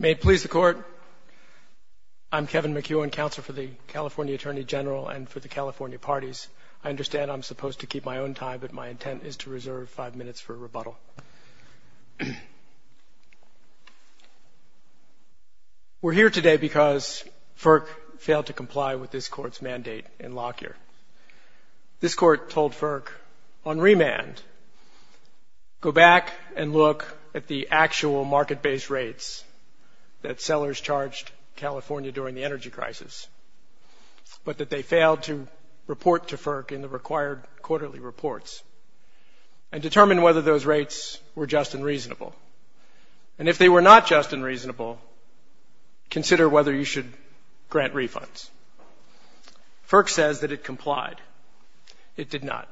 May it please the Court, I'm Kevin McEwen, Counsel for the California Attorney General and for the California Parties. I understand I'm supposed to keep my own tie, but my intent is to reserve five minutes for rebuttal. We're here today because FERC failed to comply with this Court's mandate in Lockyer. This Go back and look at the actual market-based rates that sellers charged California during the energy crisis, but that they failed to report to FERC in the required quarterly reports, and determine whether those rates were just and reasonable. And if they were not just and reasonable, consider whether you should grant refunds. FERC says that it complied. It did not.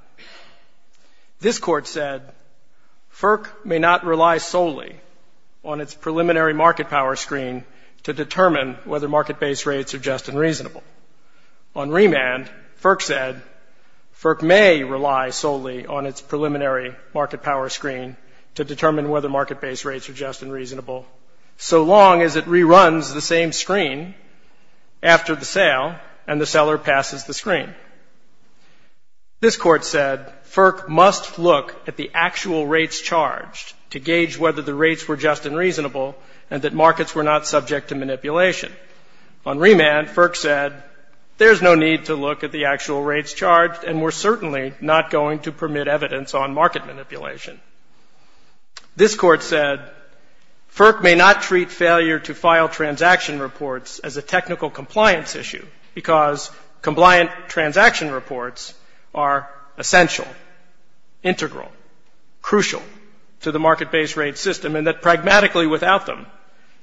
This Court said FERC may not rely solely on its preliminary market-power screen to determine whether market-based rates are just and reasonable. On remand, FERC said FERC may rely solely on its preliminary market-power screen to determine whether market-based rates are just and reasonable, so long as it reruns the same screen after the sale and the seller passes the screen. This Court said FERC must look at the actual rates charged to gauge whether the rates were just and reasonable, and that markets were not subject to manipulation. On remand, FERC said there's no need to look at the actual rates charged, and we're certainly not going to permit evidence on market manipulation. This Court said FERC may not treat failure to file transaction reports as a technical compliance issue, because compliant transaction reports are essential, integral, crucial to the market-based rate system, and that pragmatically without them,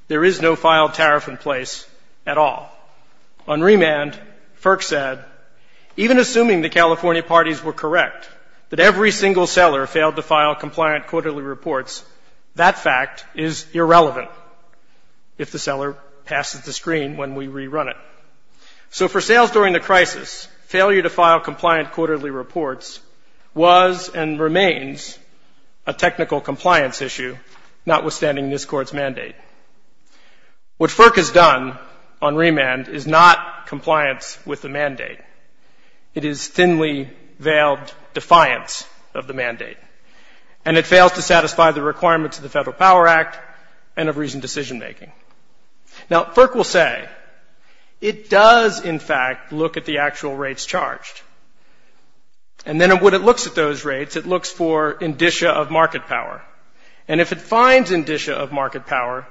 there is no filed tariff in place at all. On remand, FERC said even assuming the California parties were correct that every single seller failed to file compliant quarterly reports, that fact is irrelevant if the seller passes the screen when we rerun it. So for sales during the crisis, failure to file compliant quarterly reports was and remains a technical compliance issue, notwithstanding this Court's mandate. What FERC has done on remand is not compliance with the mandate. It is thinly-veiled defiance of the mandate, and it fails to satisfy the requirements of the Federal Power Act and of reasoned decision-making. Now, FERC will say it does, in fact, look at the actual rates charged. And then when it looks at those rates, it looks for indicia of market power. And if it finds indicia of market power,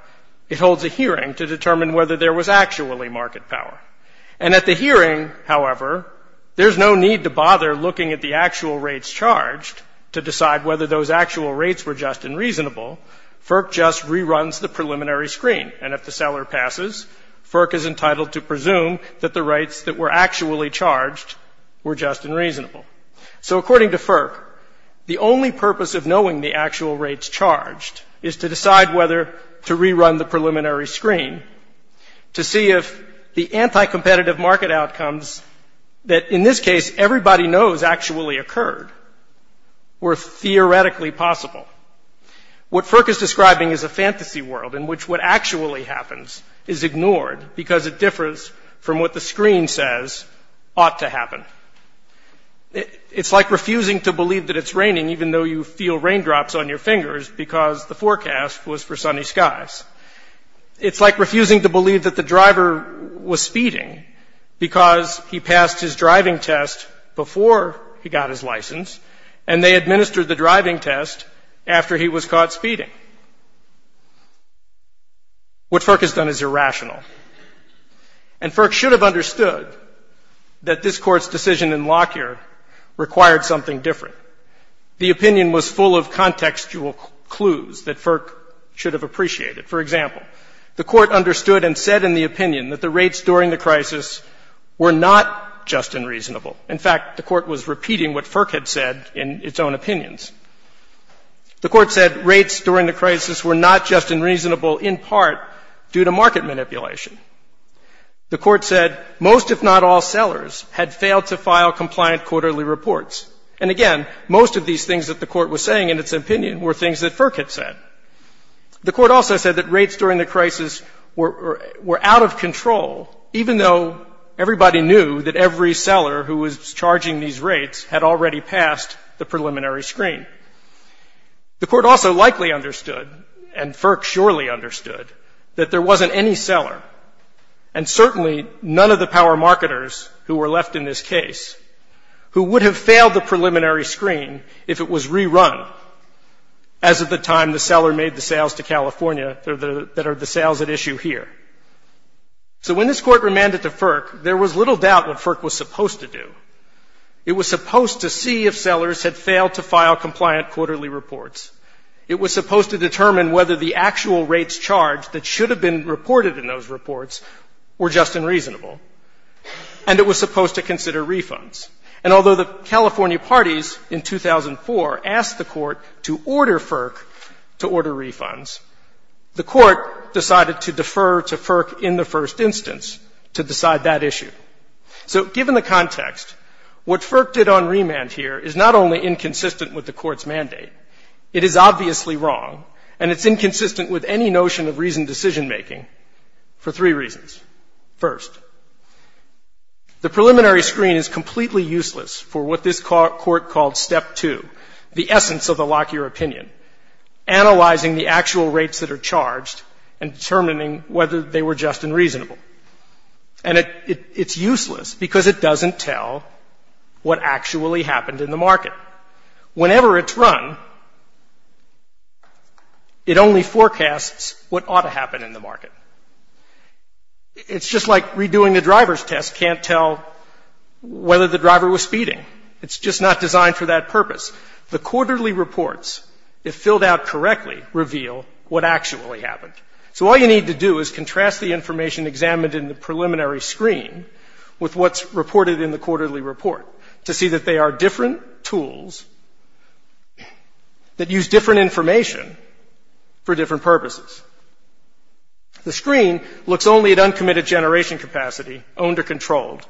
it holds a hearing to determine whether there was actually market power. And at the hearing, however, there's no need to bother looking at the actual rates charged to decide whether those actual rates were just and reasonable. FERC just reruns the preliminary screen. And if the seller passes, FERC is entitled to presume that the rates that were actually charged were just and reasonable. So according to FERC, the only purpose of knowing the actual rates charged is to decide whether to rerun the preliminary screen to see if the anti-competitive market outcomes that in this case everybody knows actually occurred were theoretically possible. What FERC is describing is a fantasy world in which what actually happens is ignored because it differs from what the screen says ought to happen. It's like refusing to believe that it's raining even though you feel raindrops on your fingers because the forecast was for passing a driving test before he got his license and they administered the driving test after he was caught speeding. What FERC has done is irrational. And FERC should have understood that this Court's decision in Lockyer required something different. The opinion was full of contextual clues that FERC should have appreciated. For example, the Court understood and said in the opinion that the rates during the crisis were not just unreasonable. In fact, the Court was repeating what FERC had said in its own opinions. The Court said rates during the crisis were not just unreasonable in part due to market manipulation. The Court said most, if not all, sellers had failed to file compliant quarterly reports. And again, most of these things that the Court was saying in its opinion were things that FERC had said. The Court also said that rates during the crisis were at a high level, were out of control, even though everybody knew that every seller who was charging these rates had already passed the preliminary screen. The Court also likely understood, and FERC surely understood, that there wasn't any seller, and certainly none of the power marketers who were left in this case, who would have failed the preliminary screen if it was rerun as of the time the seller made the sales to California that are the sales at issue here. So when this Court remanded to FERC, there was little doubt what FERC was supposed to do. It was supposed to see if sellers had failed to file compliant quarterly reports. It was supposed to determine whether the actual rates charged that should have been reported in those reports were just unreasonable. And it was supposed to consider refunds. And although the California parties in 2004 asked the Court to order FERC to order FERC in the first instance to decide that issue. So given the context, what FERC did on remand here is not only inconsistent with the Court's mandate, it is obviously wrong, and it's inconsistent with any notion of reasoned decision-making for three reasons. First, the preliminary screen is completely useless for what this Court called step two, the essence of the Lockyer opinion, analyzing the actual rates that are just and reasonable. And it's useless because it doesn't tell what actually happened in the market. Whenever it's run, it only forecasts what ought to happen in the market. It's just like redoing the driver's test can't tell whether the driver was speeding. It's just not designed for that purpose. The quarterly reports, if filled out correctly, reveal what actually happened. So all you need to do is contrast the information examined in the preliminary screen with what's reported in the quarterly report to see that they are different tools that use different information for different purposes. The screen looks only at uncommitted generation capacity, owned or controlled,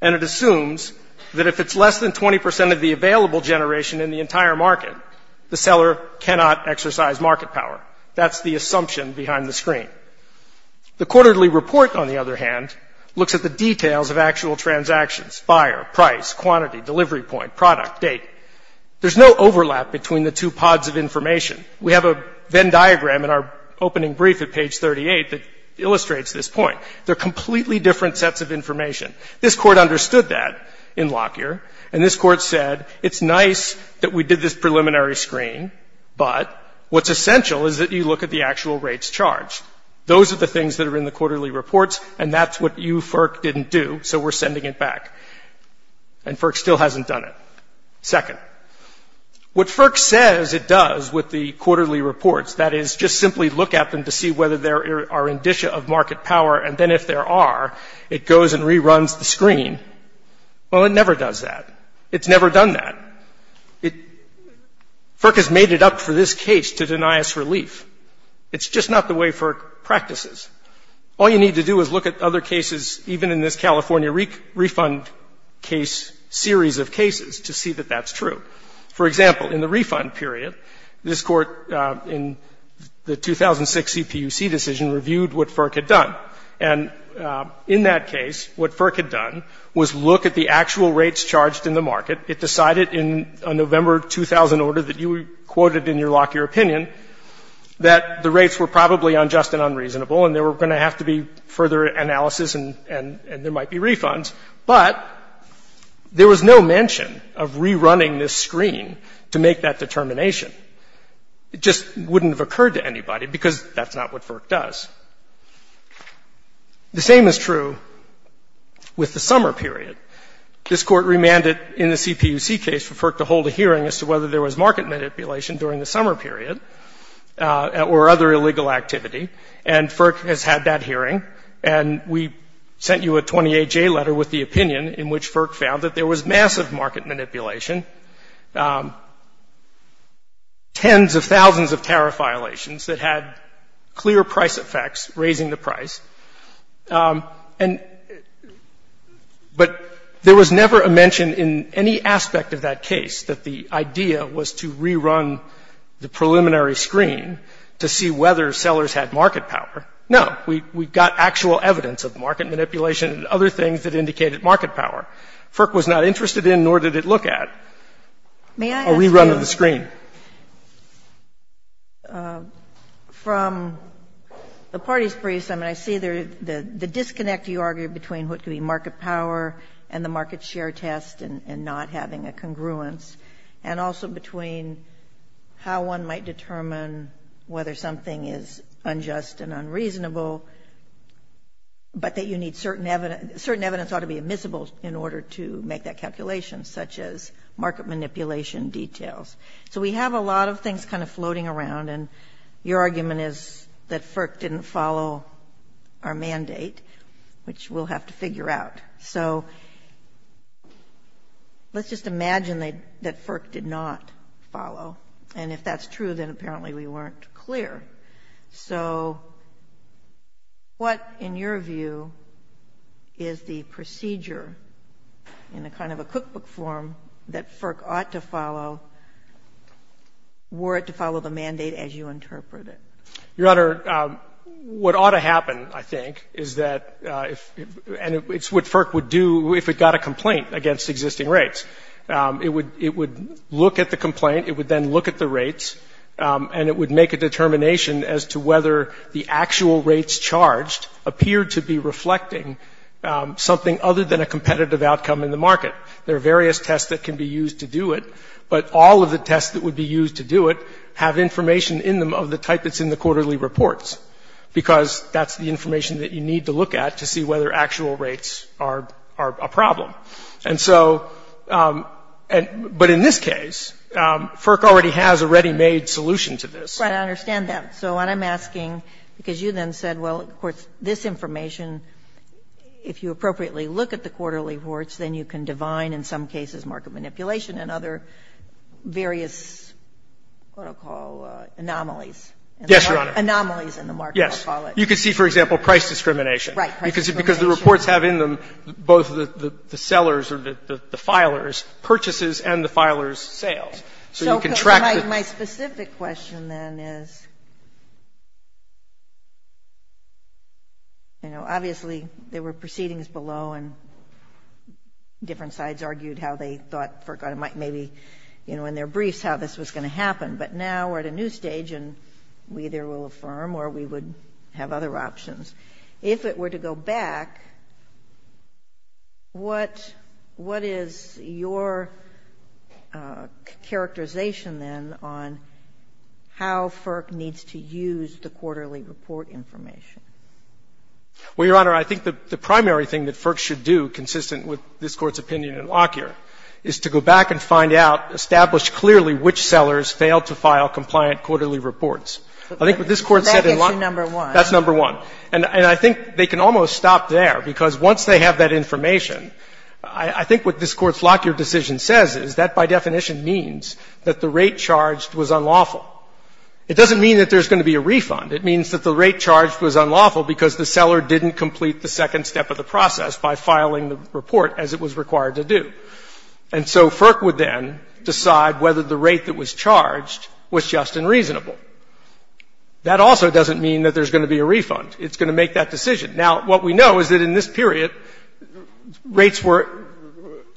and it assumes that if it's less than 20 percent of the available generation in the entire market, the seller cannot exercise market power. That's the assumption behind the screen. The quarterly report, on the other hand, looks at the details of actual transactions, buyer, price, quantity, delivery point, product, date. There's no overlap between the two pods of information. We have a Venn diagram in our opening brief at page 38 that illustrates this point. They're completely different sets of information. This Court understood that in Lockyer, and this Court said it's nice that we did this preliminary screen, but what's essential is that you look at the actual rates charged. Those are the things that are in the quarterly reports, and that's what you, FERC, didn't do, so we're sending it back. And FERC still hasn't done it. Second, what FERC says it does with the quarterly reports, that is, just simply look at them to see whether there are indicia of market power, and then if there are, it goes and reruns the screen. Well, it never does that. It's never done that. It – FERC has made it up for this case to deny us relief. It's just not the way FERC practices. All you need to do is look at other cases, even in this California refund case series of cases, to see that that's true. For example, in the refund period, this Court, in the 2006 CPUC decision, reviewed what FERC had done. And in that case, what FERC had done was look at the actual rates charged in the market. It decided in a November 2000 order that you quoted in your Lockyer opinion that the rates were probably unjust and unreasonable, and there were going to have to be further analysis, and there might be refunds. But there was no mention of rerunning this screen to make that determination. It just wouldn't have occurred to anybody, because that's not what FERC does. The same is true with the summer period. This Court remanded in the CPUC case for FERC to hold a hearing as to whether there was market manipulation during the summer period or other illegal activity, and FERC has had that hearing. And we sent you a 28J letter with the opinion in which FERC found that there was massive market manipulation, tens of thousands of tariff violations that had clear price effects raising the price. But there was never a mention in any aspect of that case that the idea was to rerun the preliminary screen to see whether sellers had market power. No. We got actual evidence of market manipulation and other things that indicated market power. FERC was not interested in, nor did it look at, a rerun of the screen. From the parties' briefs, I mean, I see the disconnect, you argue, between what could be market power and the market share test and not having a congruence, and also between how one might determine whether something is unjust and unreasonable, but that certain evidence ought to be admissible in order to make that calculation, such as market manipulation details. So we have a lot of things kind of floating around, and your argument is that FERC didn't follow our mandate, which we'll have to figure out. So let's just imagine that FERC did not follow, and if that's true, then apparently we weren't clear. So what, in your view, is the procedure in a kind of a cookbook form that FERC ought to follow were it to follow the mandate as you interpret it? Your Honor, what ought to happen, I think, is that if — and it's what FERC would do if it got a complaint against existing rates. It would — it would look at the determination as to whether the actual rates charged appeared to be reflecting something other than a competitive outcome in the market. There are various tests that can be used to do it, but all of the tests that would be used to do it have information in them of the type that's in the quarterly reports, because that's the information that you need to look at to see whether actual rates are a problem. And so — but in this case, FERC already has a ready-made solution to this. Right. I understand that. So what I'm asking, because you then said, well, of course, this information, if you appropriately look at the quarterly reports, then you can divine in some cases market manipulation and other various, what I'll call, anomalies. Yes, Your Honor. Anomalies in the market, I'll call it. Yes. You can see, for example, price discrimination. Right. Price discrimination. Because the reports have in them both the sellers or the filers' purchases and the filers' sales. So you can track the — So my specific question then is, you know, obviously there were proceedings below, and different sides argued how they thought FERC might maybe, you know, in their briefs how this was going to happen. But now we're at a new stage, and we either will affirm or we would have other options. If it were to go back, what — what is your characterization then on how FERC needs to use the quarterly report information? Well, Your Honor, I think the primary thing that FERC should do, consistent with this Court's opinion in Lockyer, is to go back and find out, establish clearly which sellers failed to file compliant quarterly reports. I think what this Court said in Lockyer — And I think they can almost stop there, because once they have that information, I think what this Court's Lockyer decision says is that by definition means that the rate charged was unlawful. It doesn't mean that there's going to be a refund. It means that the rate charged was unlawful because the seller didn't complete the second step of the process by filing the report as it was required to do. And so FERC would then decide whether the rate that was charged was just and reasonable. That also doesn't mean that there's going to be a refund. It's going to make that decision. Now, what we know is that in this period, rates were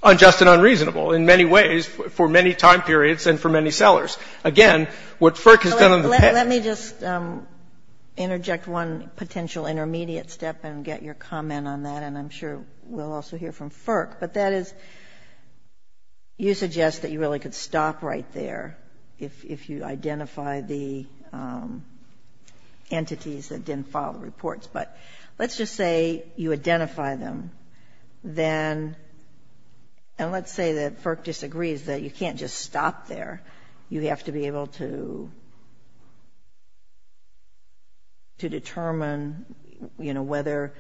unjust and unreasonable in many ways for many time periods and for many sellers. Again, what FERC has done on the pen — Let me just interject one potential intermediate step and get your comment on that, and I'm sure we'll also hear from FERC. But that is, you suggest that you really could stop right there if you identify the entities that didn't file the reports. But let's just say you identify them. Then — and let's say that FERC disagrees that you can't just stop there. You have to be able to determine, you know, whether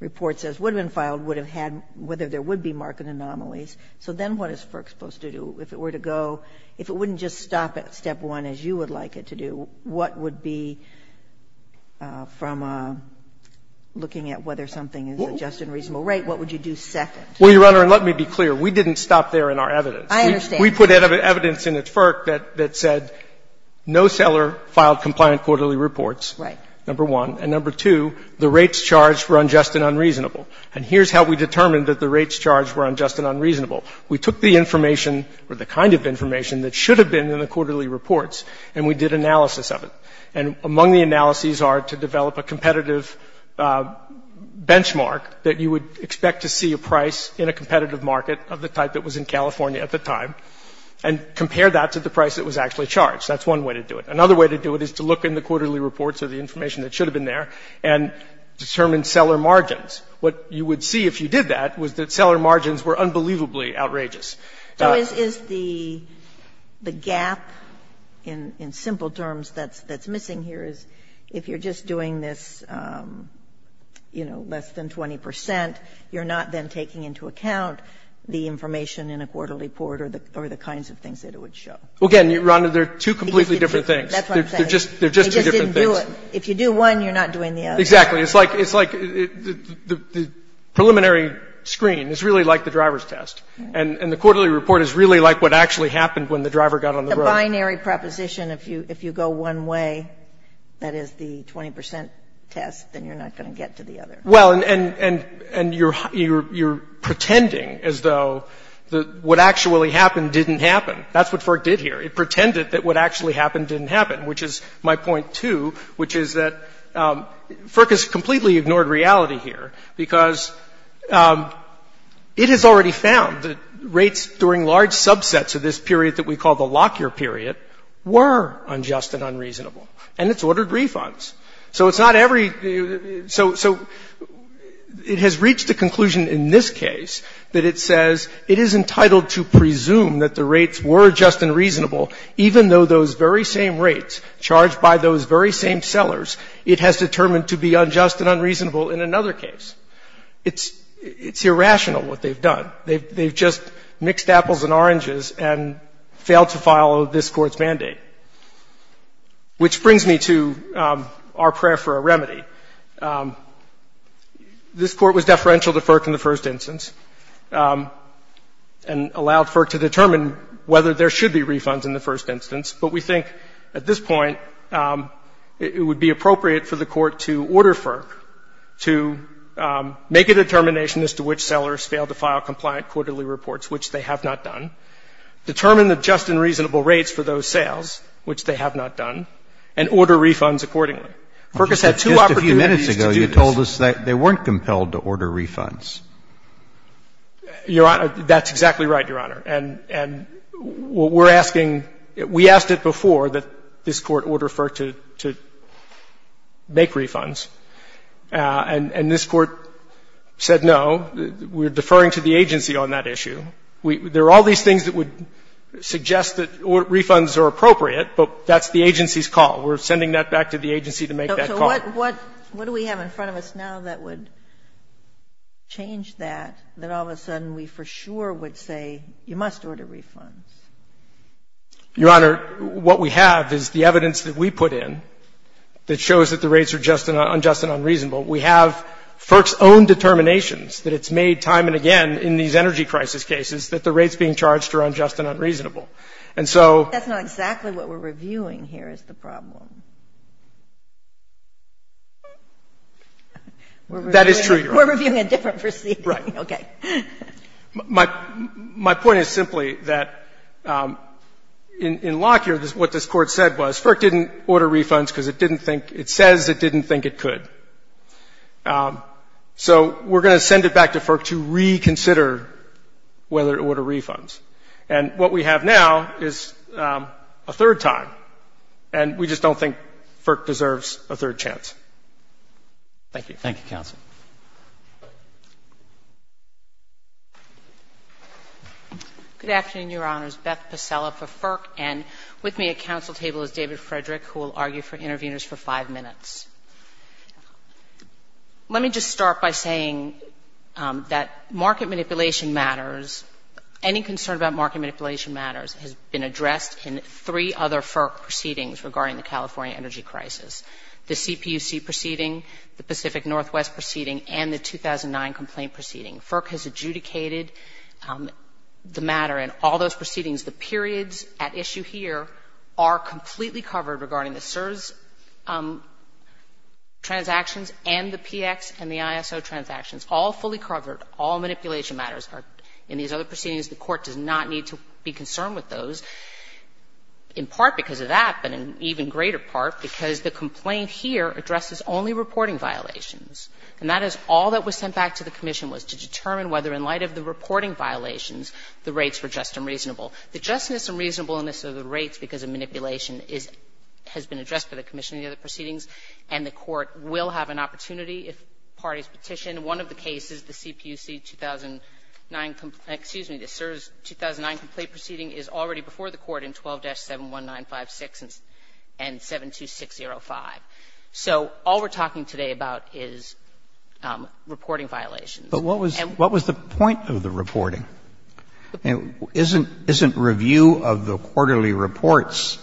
reports that would have been filed would have had — whether there would be marked anomalies. So then what is FERC supposed to do? If it were to go — if it wouldn't just stop at step one, as you would like it to do, what would be, from looking at whether something is just and reasonable rate, what would you do second? Well, Your Honor, and let me be clear. We didn't stop there in our evidence. I understand. We put evidence in at FERC that said no seller filed compliant quarterly reports. Right. Number one. And number two, the rates charged were unjust and unreasonable. And here's how we determined that the rates charged were unjust and unreasonable. We took the information, or the kind of information, that should have been in the quarterly reports, and we did analysis of it. And among the analyses are to develop a competitive benchmark that you would expect to see a price in a competitive market of the type that was in California at the time, and compare that to the price that was actually charged. That's one way to do it. Another way to do it is to look in the quarterly reports or the information that should have been there and determine seller margins. What you would see if you did that was that seller margins were unbelievably outrageous. So is the gap in simple terms that's missing here is if you're just doing this, you know, less than 20 percent, you're not then taking into account the information in a quarterly report or the kinds of things that it would show. Well, again, Your Honor, they're two completely different things. That's what I'm saying. They're just two different things. But if you do one, you're not doing the other. Exactly. It's like the preliminary screen is really like the driver's test. And the quarterly report is really like what actually happened when the driver got on the road. The binary proposition, if you go one way, that is the 20 percent test, then you're not going to get to the other. Well, and you're pretending as though what actually happened didn't happen. That's what FERC did here. It pretended that what actually happened didn't happen, which is my point, too, which is that FERC has completely ignored reality here because it has already found that rates during large subsets of this period that we call the Lockyer period were unjust and unreasonable. And it's ordered refunds. So it's not every so it has reached the conclusion in this case that it says it is even though those very same rates charged by those very same sellers, it has determined to be unjust and unreasonable in another case. It's irrational what they've done. They've just mixed apples and oranges and failed to follow this Court's mandate, which brings me to our prayer for a remedy. This Court was deferential to FERC in the first instance and allowed FERC to determine whether there should be refunds in the first instance, but we think at this point it would be appropriate for the Court to order FERC to make a determination as to which sellers failed to file compliant quarterly reports, which they have not done, determine the just and reasonable rates for those sales, which they have not done, and order refunds accordingly. FERC has had two opportunities to do this. Just a few minutes ago you told us that they weren't compelled to order refunds. Your Honor, that's exactly right, Your Honor. And we're asking, we asked it before that this Court order FERC to make refunds, and this Court said no. We're deferring to the agency on that issue. There are all these things that would suggest that refunds are appropriate, but that's the agency's call. We're sending that back to the agency to make that call. So what do we have in front of us now that would change that, that all of a sudden we for sure would say you must order refunds? Your Honor, what we have is the evidence that we put in that shows that the rates are just and unjust and unreasonable. We have FERC's own determinations that it's made time and again in these energy crisis cases that the rates being charged are unjust and unreasonable. And so That's not exactly what we're reviewing here is the problem. That is true, Your Honor. We're reviewing a different proceeding. Right. Okay. My point is simply that in Lockyer what this Court said was FERC didn't order refunds because it didn't think, it says it didn't think it could. So we're going to send it back to FERC to reconsider whether to order refunds. And what we have now is a third time. And we just don't think FERC deserves a third chance. Thank you. Thank you, counsel. Good afternoon, Your Honors. Beth Pasella for FERC. And with me at counsel table is David Frederick who will argue for interveners for five minutes. Let me just start by saying that market manipulation matters. Any concern about market manipulation matters has been addressed in three other FERC proceedings regarding the California energy crisis. The CPUC proceeding, the Pacific Northwest proceeding, and the 2009 complaint proceeding. FERC has adjudicated the matter in all those proceedings. The periods at issue here are completely covered regarding the CSRS transactions and the PX and the ISO transactions, all fully covered. All manipulation matters are in these other proceedings. The Court does not need to be concerned with those, in part because of that, but in an even greater part because the complaint here addresses only reporting violations, and that is all that was sent back to the commission was to determine whether in light of the reporting violations the rates were just and reasonable. The justness and reasonableness of the rates because of manipulation has been addressed by the commission in the other proceedings, and the Court will have an opportunity if parties petition. And in one of the cases, the CPUC 2009, excuse me, the CSRS 2009 complaint proceeding is already before the Court in 12-71956 and 72605. So all we're talking today about is reporting violations. And what was the point of the reporting? Isn't review of the quarterly reports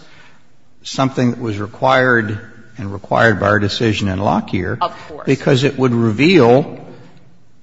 something that was required and required by our decision in Lockyer? Of course. Because it would reveal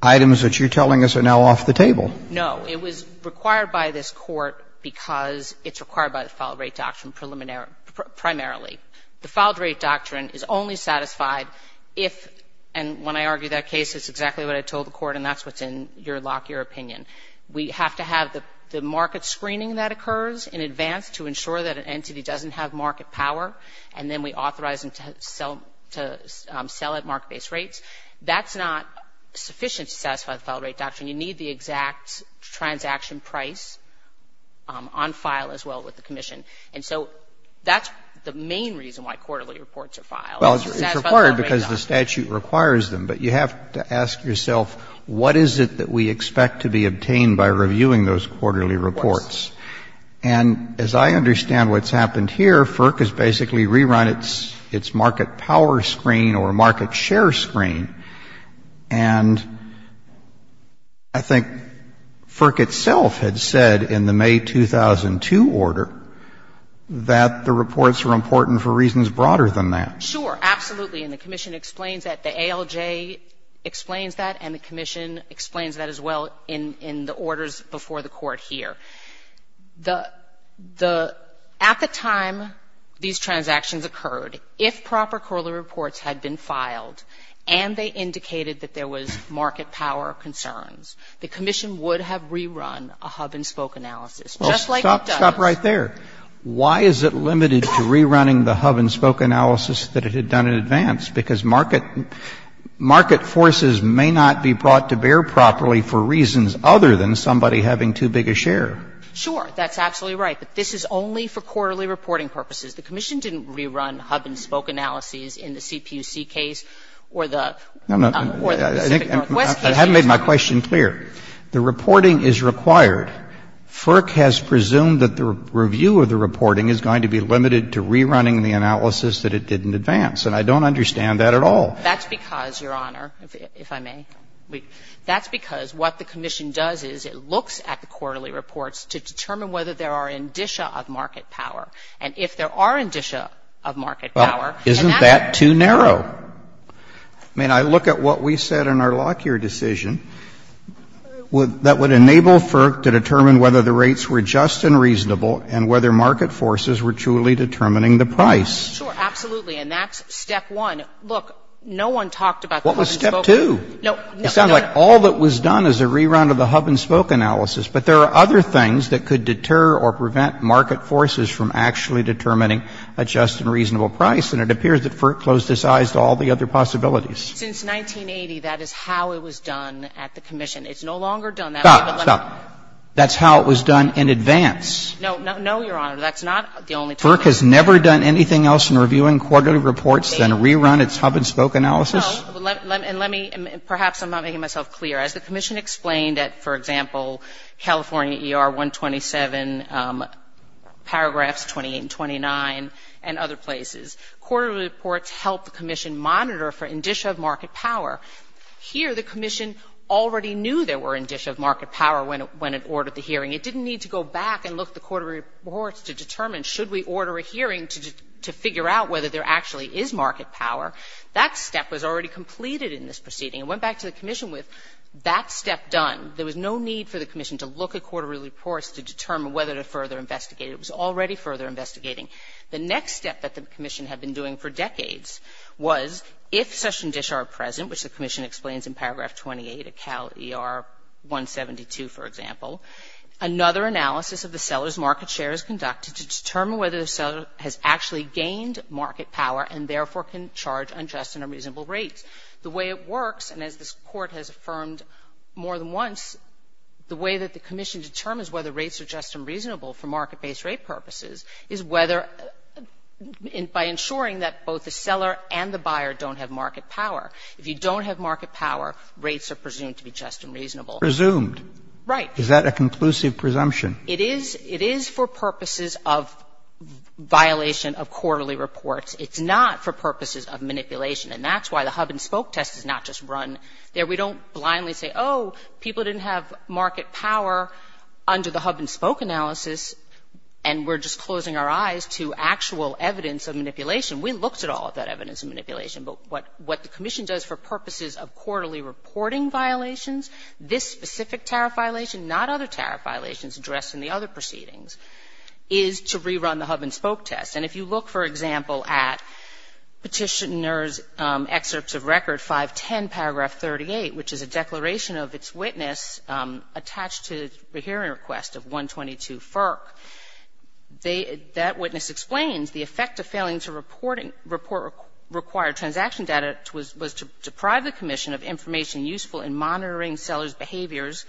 items that you're telling us are now off the table. No. It was required by this Court because it's required by the Filed Rate Doctrine preliminary or primarily. The Filed Rate Doctrine is only satisfied if, and when I argue that case, it's exactly what I told the Court, and that's what's in your Lockyer opinion. We have to have the market screening that occurs in advance to ensure that an entity doesn't have market power, and then we authorize them to sell at market-based rates. That's not sufficient to satisfy the Filed Rate Doctrine. You need the exact transaction price on file as well with the commission. And so that's the main reason why quarterly reports are filed. It's to satisfy the Filed Rate Doctrine. Well, it's required because the statute requires them. But you have to ask yourself, what is it that we expect to be obtained by reviewing those quarterly reports? Of course. And as I understand what's happened here, FERC has basically rerun its market power screen or market share screen. And I think FERC itself had said in the May 2002 order that the reports were important for reasons broader than that. Sure. Absolutely. And the commission explains that. The ALJ explains that, and the commission explains that as well in the orders before the Court here. At the time these transactions occurred, if proper quarterly reports had been filed and they indicated that there was market power concerns, the commission would have rerun a hub-and-spoke analysis, just like it does. Well, stop right there. Why is it limited to rerunning the hub-and-spoke analysis that it had done in advance? Because market forces may not be brought to bear properly for reasons other than somebody having too big a share. Sure. That's absolutely right. But this is only for quarterly reporting purposes. The commission didn't rerun hub-and-spoke analyses in the CPUC case or the Pacific Northwest case. I haven't made my question clear. The reporting is required. FERC has presumed that the review of the reporting is going to be limited to rerunning the analysis that it did in advance, and I don't understand that at all. That's because, Your Honor, if I may. That's because what the commission does is it looks at the quarterly reports to determine whether there are indicia of market power. And if there are indicia of market power, and that's the case. Well, isn't that too narrow? I mean, I look at what we said in our Lockyer decision that would enable FERC to determine whether the rates were just and reasonable and whether market forces were truly determining the price. Sure. Absolutely. And that's step one. Look, no one talked about the hub-and-spoke. Step two. It sounds like all that was done is a rerun of the hub-and-spoke analysis. But there are other things that could deter or prevent market forces from actually determining a just and reasonable price, and it appears that FERC closed its eyes to all the other possibilities. Since 1980, that is how it was done at the commission. It's no longer done that way. Stop. Stop. That's how it was done in advance. No. No, Your Honor. That's not the only time. FERC has never done anything else in reviewing quarterly reports than rerun its hub-and-spoke analysis? No. And let me — perhaps I'm not making myself clear. As the commission explained at, for example, California ER 127, paragraphs 28 and 29, and other places, quarterly reports help the commission monitor for indicia of market power. Here, the commission already knew there were indicia of market power when it ordered the hearing. It didn't need to go back and look at the quarterly reports to determine should we order a hearing to figure out whether there actually is market power. That step was already completed in this proceeding. It went back to the commission with that step done. There was no need for the commission to look at quarterly reports to determine whether to further investigate. It was already further investigating. The next step that the commission had been doing for decades was, if such indicia are present, which the commission explains in paragraph 28 at Cal ER 172, for example, another analysis of the seller's market share is conducted to determine whether the seller has actually gained market power and, therefore, can charge unjust and unreasonable rates. The way it works, and as this Court has affirmed more than once, the way that the commission determines whether rates are just and reasonable for market-based rate purposes is whether — by ensuring that both the seller and the buyer don't have market power. If you don't have market power, rates are presumed to be just and reasonable. Presumed. Right. Is that a conclusive presumption? It is. It is for purposes of violation of quarterly reports. It's not for purposes of manipulation. And that's why the hub-and-spoke test is not just run there. We don't blindly say, oh, people didn't have market power under the hub-and-spoke analysis, and we're just closing our eyes to actual evidence of manipulation. We looked at all of that evidence of manipulation. But what the commission does for purposes of quarterly reporting violations, this specific tariff violation, not other tariff violations addressed in the other proceedings, is to rerun the hub-and-spoke test. And if you look, for example, at Petitioner's excerpts of Record 510, paragraph 38, which is a declaration of its witness attached to the hearing request of 122 FERC, they — that witness explains the effect of failing to report required transaction data was to deprive the commission of information useful in monitoring sellers' behaviors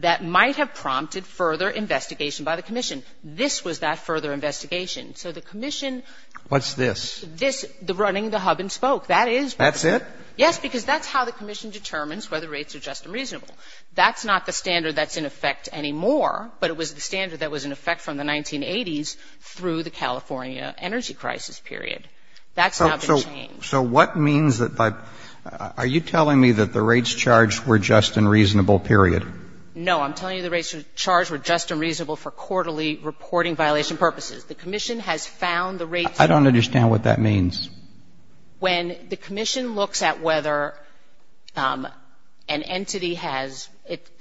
that might have prompted further investigation by the commission. This was that further investigation. So the commission — What's this? This, the running the hub-and-spoke, that is — That's it? Yes, because that's how the commission determines whether rates are just and reasonable. That's not the standard that's in effect anymore, but it was the standard that was in effect from the 1980s through the California energy crisis period. That's now been changed. So what means that by — are you telling me that the rates charged were just and reasonable, period? No. I'm telling you the rates charged were just and reasonable for quarterly reporting violation purposes. The commission has found the rates — I don't understand what that means. When the commission looks at whether an entity has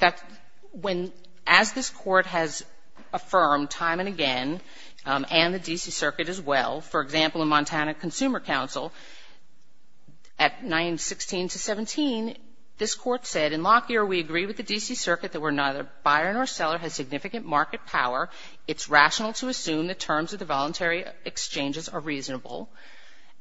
— when, as this Court has affirmed time and again, and the D.C. Circuit as well, for example, in Montana Consumer Council, at 916 to 17, this Court said, in Lockyer, we agree with the D.C. Circuit that neither buyer nor seller has significant market power. It's rational to assume the terms of the voluntary exchanges are reasonable.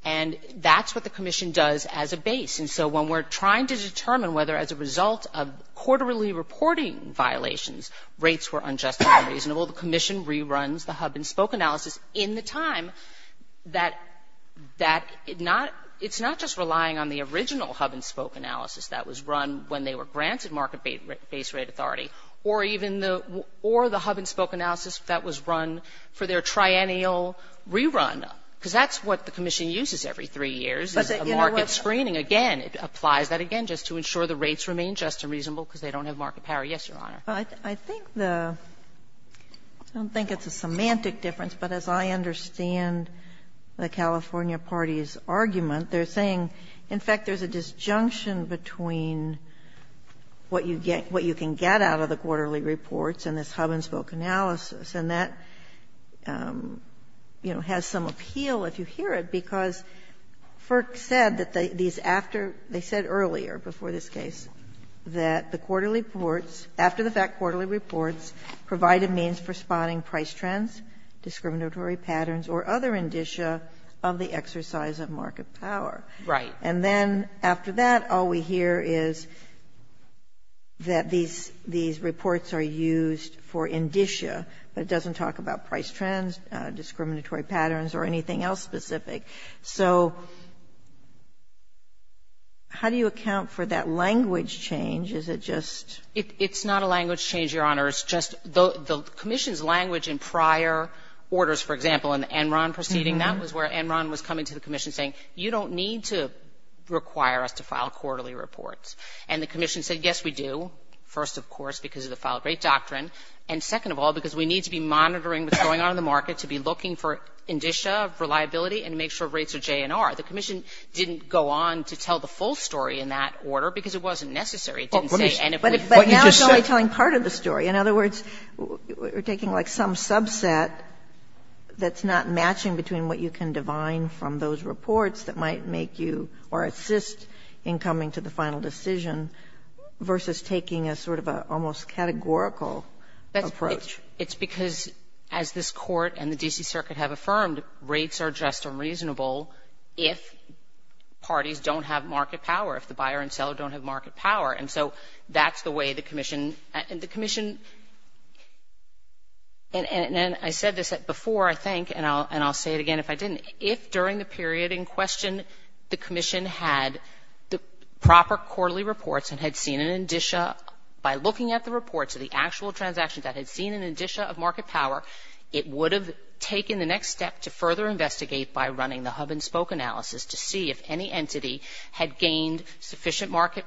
And that's what the commission does as a base. And so when we're trying to determine whether, as a result of quarterly reporting violations, rates were unjust and unreasonable, the commission reruns the hub-and-spoke analysis in the time that — that — not — it's not just relying on the original hub-and-spoke analysis that was run when they were granted market-based rate authority or even the — or the hub-and-spoke analysis that was run for their triennial rerun, because that's what the commission uses every three years is a market screening. Again, it applies that again just to ensure the rates remain just and reasonable because they don't have market power. Yes, Your Honor. Ginsburg. I think the — I don't think it's a semantic difference, but as I understand the California party's argument, they're saying, in fact, there's a disjunction between what you get — what you can get out of the quarterly reports and this hub-and-spoke analysis, and that, you know, has some appeal, if you hear it, because FERC said that these — after — they said earlier, before this case, that the quarterly reports — after the fact, quarterly reports provide a means for spotting price trends, discriminatory patterns, or other indicia of the exercise of market power. Right. And then after that, all we hear is that these — these reports are used for indicia, but it doesn't talk about price trends, discriminatory patterns, or anything else specific. So how do you account for that language change? Is it just — It's not a language change, Your Honor. It's just the commission's language in prior orders, for example, in the Enron proceeding, that was where Enron was coming to the commission saying, you don't need to require us to file quarterly reports. And the commission said, yes, we do, first, of course, because of the filed rate doctrine, and second of all, because we need to be monitoring what's going on in the market to be looking for indicia of reliability and make sure rates are J and R. The commission didn't go on to tell the full story in that order because it wasn't necessary. It didn't say anything. But now it's only telling part of the story. In other words, we're taking, like, some subset that's not matching between what you can divine from those reports that might make you or assist in coming to the final decision versus taking a sort of an almost categorical approach. It's because, as this Court and the D.C. Circuit have affirmed, rates are just unreasonable if parties don't have market power, if the buyer and seller don't have market power. And so that's the way the commission — and the commission — and I said this before, I think, and I'll say it again if I didn't. If during the period in question the commission had the proper quarterly reports and had seen an indicia, by looking at the reports of the actual transactions that had seen an indicia of market power, it would have taken the next step to further investigate by running the hub-and-spoke analysis to see if any entity had gained sufficient market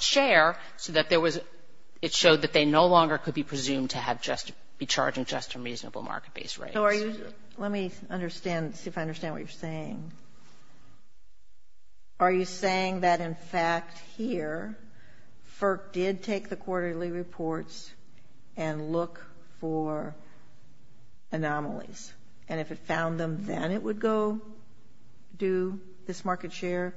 share so that there was — it showed that they no longer could be presumed to have just — be charging just and reasonable market-based rates. So are you — let me understand, see if I understand what you're saying. Are you saying that, in fact, here, FERC did take the quarterly reports and look for anomalies? And if it found them, then it would go do this market share?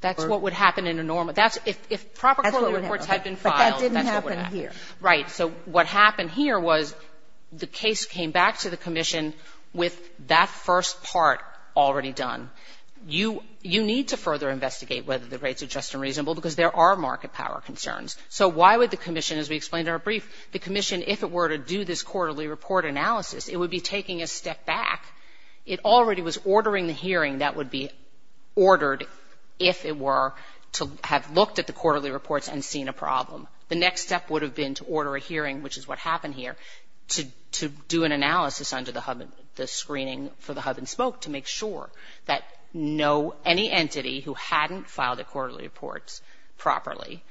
That's what would happen in a normal — that's — if proper quarterly reports had been filed, that's what would happen. But that didn't happen here. Right. So what happened here was the case came back to the commission with that first part already done. You need to further investigate whether the rates are just and reasonable because there are market power concerns. So why would the commission, as we explained in our brief, the commission, if it were to do this quarterly report analysis, it would be taking a step back. It already was ordering the hearing that would be ordered, if it were, to have looked at the quarterly reports and seen a problem. The next step would have been to order a hearing, which is what happened here, to do an analysis under the screening for the hub and smoke to make sure that no — any entity who hadn't filed their quarterly reports properly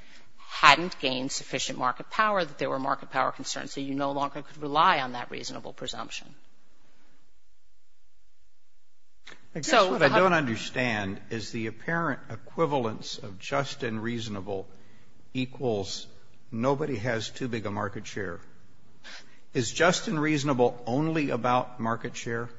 hadn't gained sufficient market power, that there were market power concerns, so you no longer could rely on that reasonable presumption. I guess what I don't understand is the apparent equivalence of just and reasonable equals nobody has too big a market share. Is just and reasonable only about market share?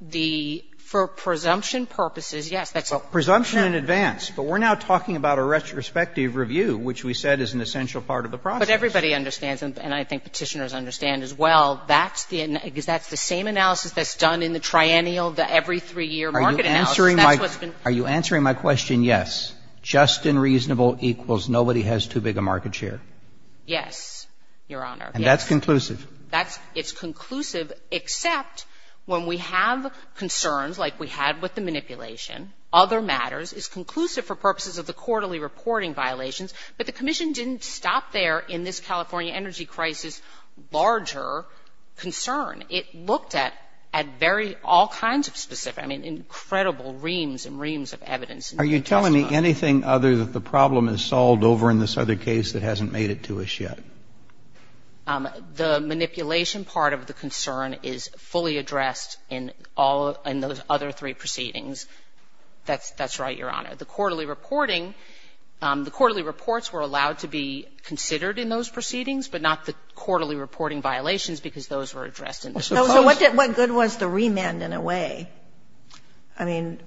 The — for presumption purposes, yes. Well, presumption in advance. But we're now talking about a retrospective review, which we said is an essential part of the process. But everybody understands, and I think Petitioners understand as well, that's the — because that's the same analysis that's done in the triennial, the every three-year market analysis. That's what's been — Are you answering my — are you answering my question, yes, just and reasonable equals nobody has too big a market share? Yes, Your Honor. And that's conclusive? That's — it's conclusive, except when we have concerns like we had with the manipulation, other matters, it's conclusive for purposes of the quarterly reporting violations. But the Commission didn't stop there in this California energy crisis larger concern. It looked at very — all kinds of specific — I mean, incredible reams and reams of evidence. Are you telling me anything other that the problem is solved over in this other case that hasn't made it to us yet? The manipulation part of the concern is fully addressed in all — in those other three proceedings. That's right, Your Honor. The quarterly reporting, the quarterly reports were allowed to be considered in those proceedings, but not the quarterly reporting violations, because those were addressed in the proceedings. So what good was the remand in a way? I mean,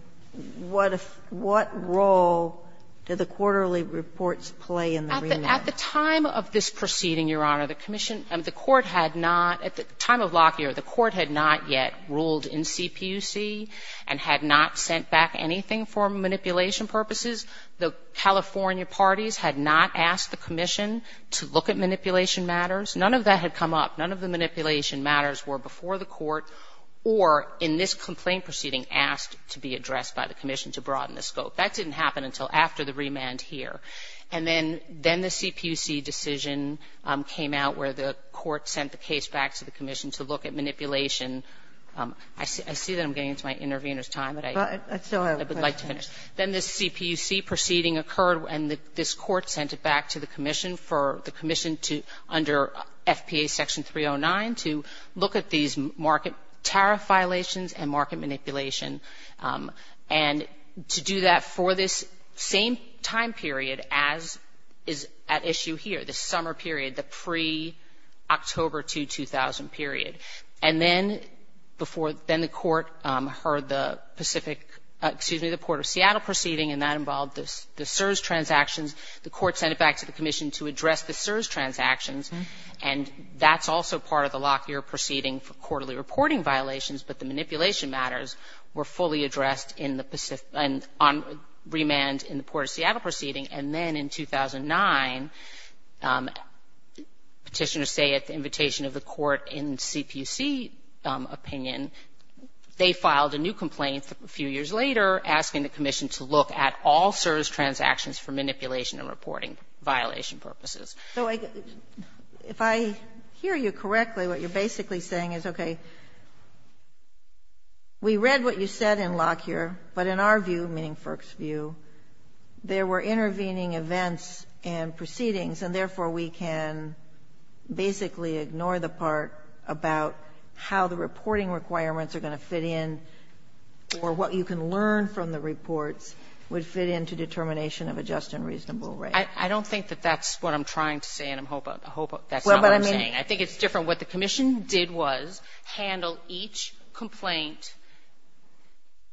what role did the quarterly reports play in the remand? At the time of this proceeding, Your Honor, the Commission — the Court had not — at the time of Lockyer, the Court had not yet ruled in CPUC and had not sent back anything for manipulation purposes. The California parties had not asked the Commission to look at manipulation matters. None of that had come up. None of the manipulation matters were before the Court or in this complaint proceeding asked to be addressed by the Commission to broaden the scope. That didn't happen until after the remand here. And then the CPUC decision came out where the Court sent the case back to the Commission to look at manipulation. I see that I'm getting into my intervener's time, but I would like to finish. Then this CPUC proceeding occurred, and this Court sent it back to the Commission for the Commission to — under FPA Section 309 to look at these market tariff violations and market manipulation and to do that for this same time period as is at issue here, the summer period, the pre-October 2000 period. And then before — then the Court heard the Pacific — excuse me, the Port of Seattle proceeding, and that involved the CSRS transactions. The Court sent it back to the Commission to address the CSRS transactions, and that's also part of the Lockyer proceeding for quarterly reporting violations, but the manipulation matters were fully addressed in the Pacific — on remand in the Port of Seattle proceeding. And then in 2009, petitioners say at the invitation of the Court in CPUC opinion, they filed a new complaint a few years later asking the Commission to look at all the CSRS transactions for manipulation and reporting violation purposes. So if I hear you correctly, what you're basically saying is, okay, we read what you said in Lockyer, but in our view, meaning FERC's view, there were intervening events and proceedings, and therefore we can basically ignore the part about how the reporting requirements are going to fit in or what you can learn from the reports would fit into determination of a just and reasonable rate. I don't think that that's what I'm trying to say, and I hope that's not what I'm saying. I think it's different. What the Commission did was handle each complaint,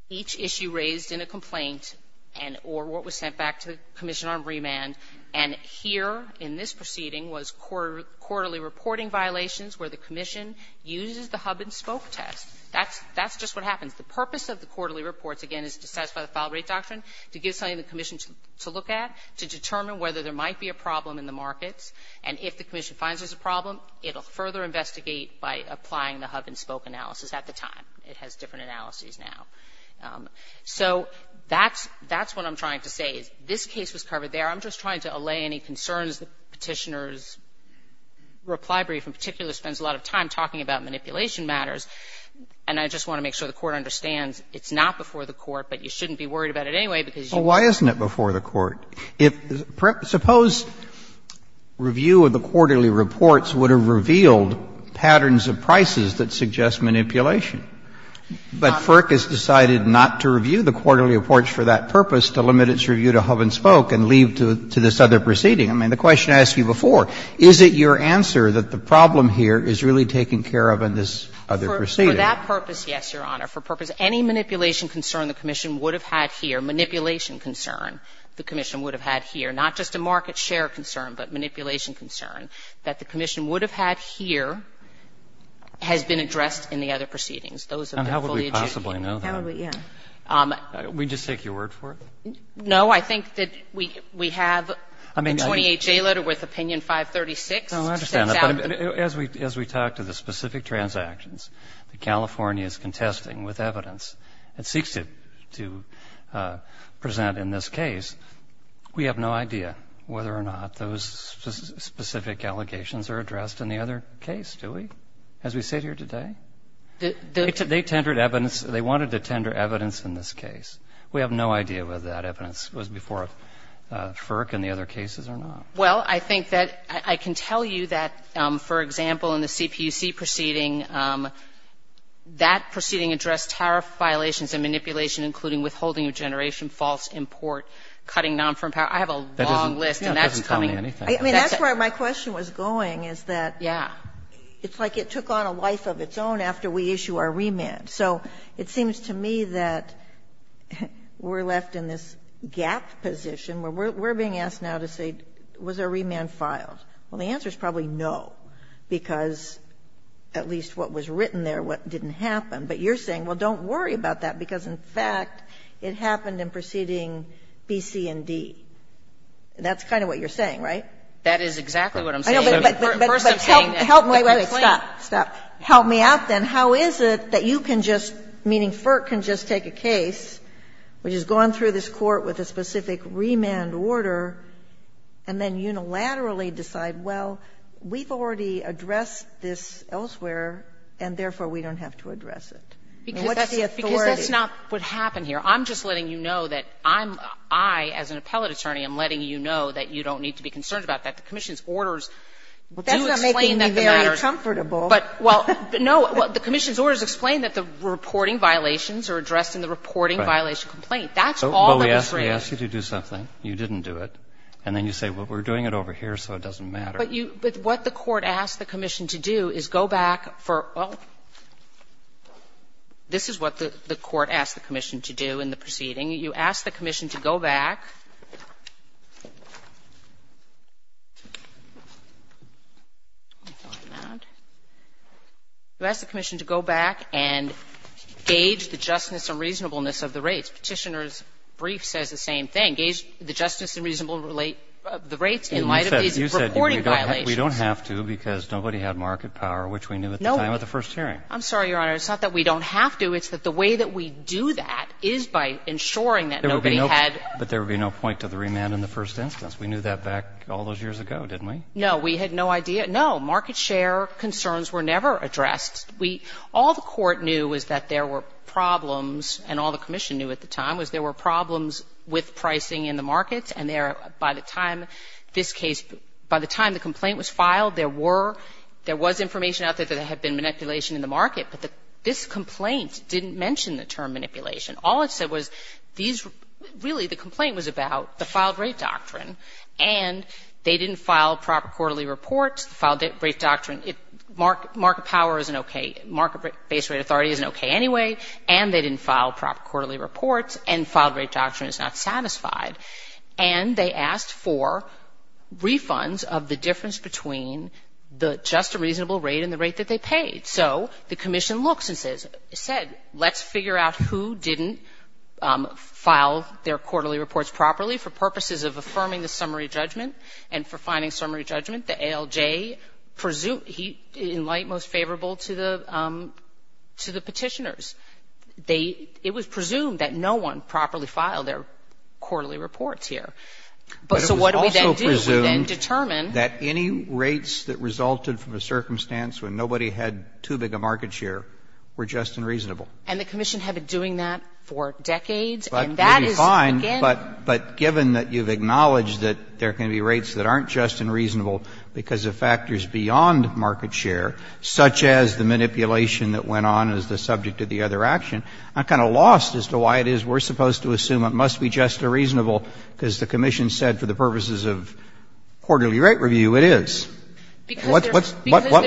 each issue raised in a complaint and — or what was sent back to the Commission on remand. And here in this proceeding was quarterly reporting violations where the Commission uses the hub-and-spoke test. That's just what happens. The purpose of the quarterly reports, again, is to satisfy the file rate doctrine, to give something to the Commission to look at, to determine whether there might be a problem in the markets. And if the Commission finds there's a problem, it'll further investigate by applying the hub-and-spoke analysis at the time. It has different analyses now. So that's what I'm trying to say. This case was covered there. I'm just trying to allay any concerns that Petitioner's reply brief in particular spends a lot of time talking about manipulation matters, and I just want to make sure the Court understands it's not before the Court, but you shouldn't be worried about it anyway, because you can't. Roberts. Well, why isn't it before the Court? Suppose review of the quarterly reports would have revealed patterns of prices that suggest manipulation, but FERC has decided not to review the quarterly reports for that purpose, to limit its review to hub-and-spoke and leave to this other proceeding. I mean, the question I asked you before, is it your answer that the problem here is really taken care of in this other proceeding? For that purpose, yes, Your Honor. For purpose of any manipulation concern the Commission would have had here, manipulation concern the Commission would have had here, not just a market share concern, but manipulation concern that the Commission would have had here has been addressed in the other proceedings. Those have been fully adjudicated. And how would we possibly know that? How would we, yes. We just take your word for it? No. I think that we have the 28-J letter with opinion 536. No, I understand that. As we talk to the specific transactions that California is contesting with evidence and seeks to present in this case, we have no idea whether or not those specific allegations are addressed in the other case, do we, as we sit here today? They tendered evidence. They wanted to tender evidence in this case. We have no idea whether that evidence was before FERC in the other cases or not. Well, I think that I can tell you that, for example, in the CPUC proceeding, that proceeding addressed tariff violations and manipulation, including withholding of generation, false import, cutting nonfirm power. I have a long list, and that's coming. No, it doesn't tell me anything. I mean, that's where my question was going, is that it's like it took on a life of its own after we issue our remand. So it seems to me that we're left in this gap position where we're being asked now to say, was there a remand filed? Well, the answer is probably no, because at least what was written there, what didn't happen. But you're saying, well, don't worry about that, because, in fact, it happened in proceeding B, C, and D. That's kind of what you're saying, right? That is exactly what I'm saying. First, I'm saying that the claim. Help me out, then. How is it that you can just, meaning FERC can just take a case which has gone through this Court with a specific remand order, and then unilaterally decide, well, we've already addressed this elsewhere, and therefore we don't have to address it? I mean, what's the authority? Because that's not what happened here. I'm just letting you know that I'm, I, as an appellate attorney, am letting you know that you don't need to be concerned about that. The commission's orders do explain that the matter is. Well, that's not making me very comfortable. But, well, no, the commission's orders explain that the reporting violations are addressed in the reporting violation complaint. That's all that was raised. But we asked you to do something. You didn't do it. And then you say, well, we're doing it over here, so it doesn't matter. But you, but what the Court asked the commission to do is go back for, well, this is what the Court asked the commission to do in the proceeding. You asked the commission to go back. Let me find that. You asked the commission to go back and gauge the justness and reasonableness of the rates. Petitioner's brief says the same thing. Gauge the justness and reasonableness of the rates in light of these reporting violations. We don't have to, because nobody had market power, which we knew at the time of the first hearing. I'm sorry, Your Honor. It's not that we don't have to. It's that the way that we do that is by ensuring that nobody had. But there would be no point to the remand in the first instance. We knew that back all those years ago, didn't we? We had no idea. Market share concerns were never addressed. All the Court knew was that there were problems, and all the commission knew at the time, was there were problems with pricing in the markets, and there, by the time this case, by the time the complaint was filed, there were, there was information out there that there had been manipulation in the market, but this complaint didn't mention the term manipulation. All it said was these, really the complaint was about the filed rate doctrine, and they didn't file proper quarterly reports. The filed rate doctrine, market power isn't okay. Market-based rate authority isn't okay anyway, and they didn't file proper quarterly reports, and filed rate doctrine is not satisfied. And they asked for refunds of the difference between the just and reasonable rate and the rate that they paid. So the commission looks and said, let's figure out who didn't file their quarterly reports properly for purposes of affirming the summary judgment and for finding the summary judgment. The ALJ presumed, in light, most favorable to the Petitioners. They, it was presumed that no one properly filed their quarterly reports here. But so what do we then do? We then determine that any rates that resulted from a circumstance when nobody had too big a market share were just and reasonable. And the commission had been doing that for decades, and that is, again. But given that you've acknowledged that there can be rates that aren't just and reasonable because of factors beyond market share, such as the manipulation that went on as the subject of the other action, I'm kind of lost as to why it is we're supposed to assume it must be just and reasonable because the commission said for the purposes of quarterly rate review, it is. What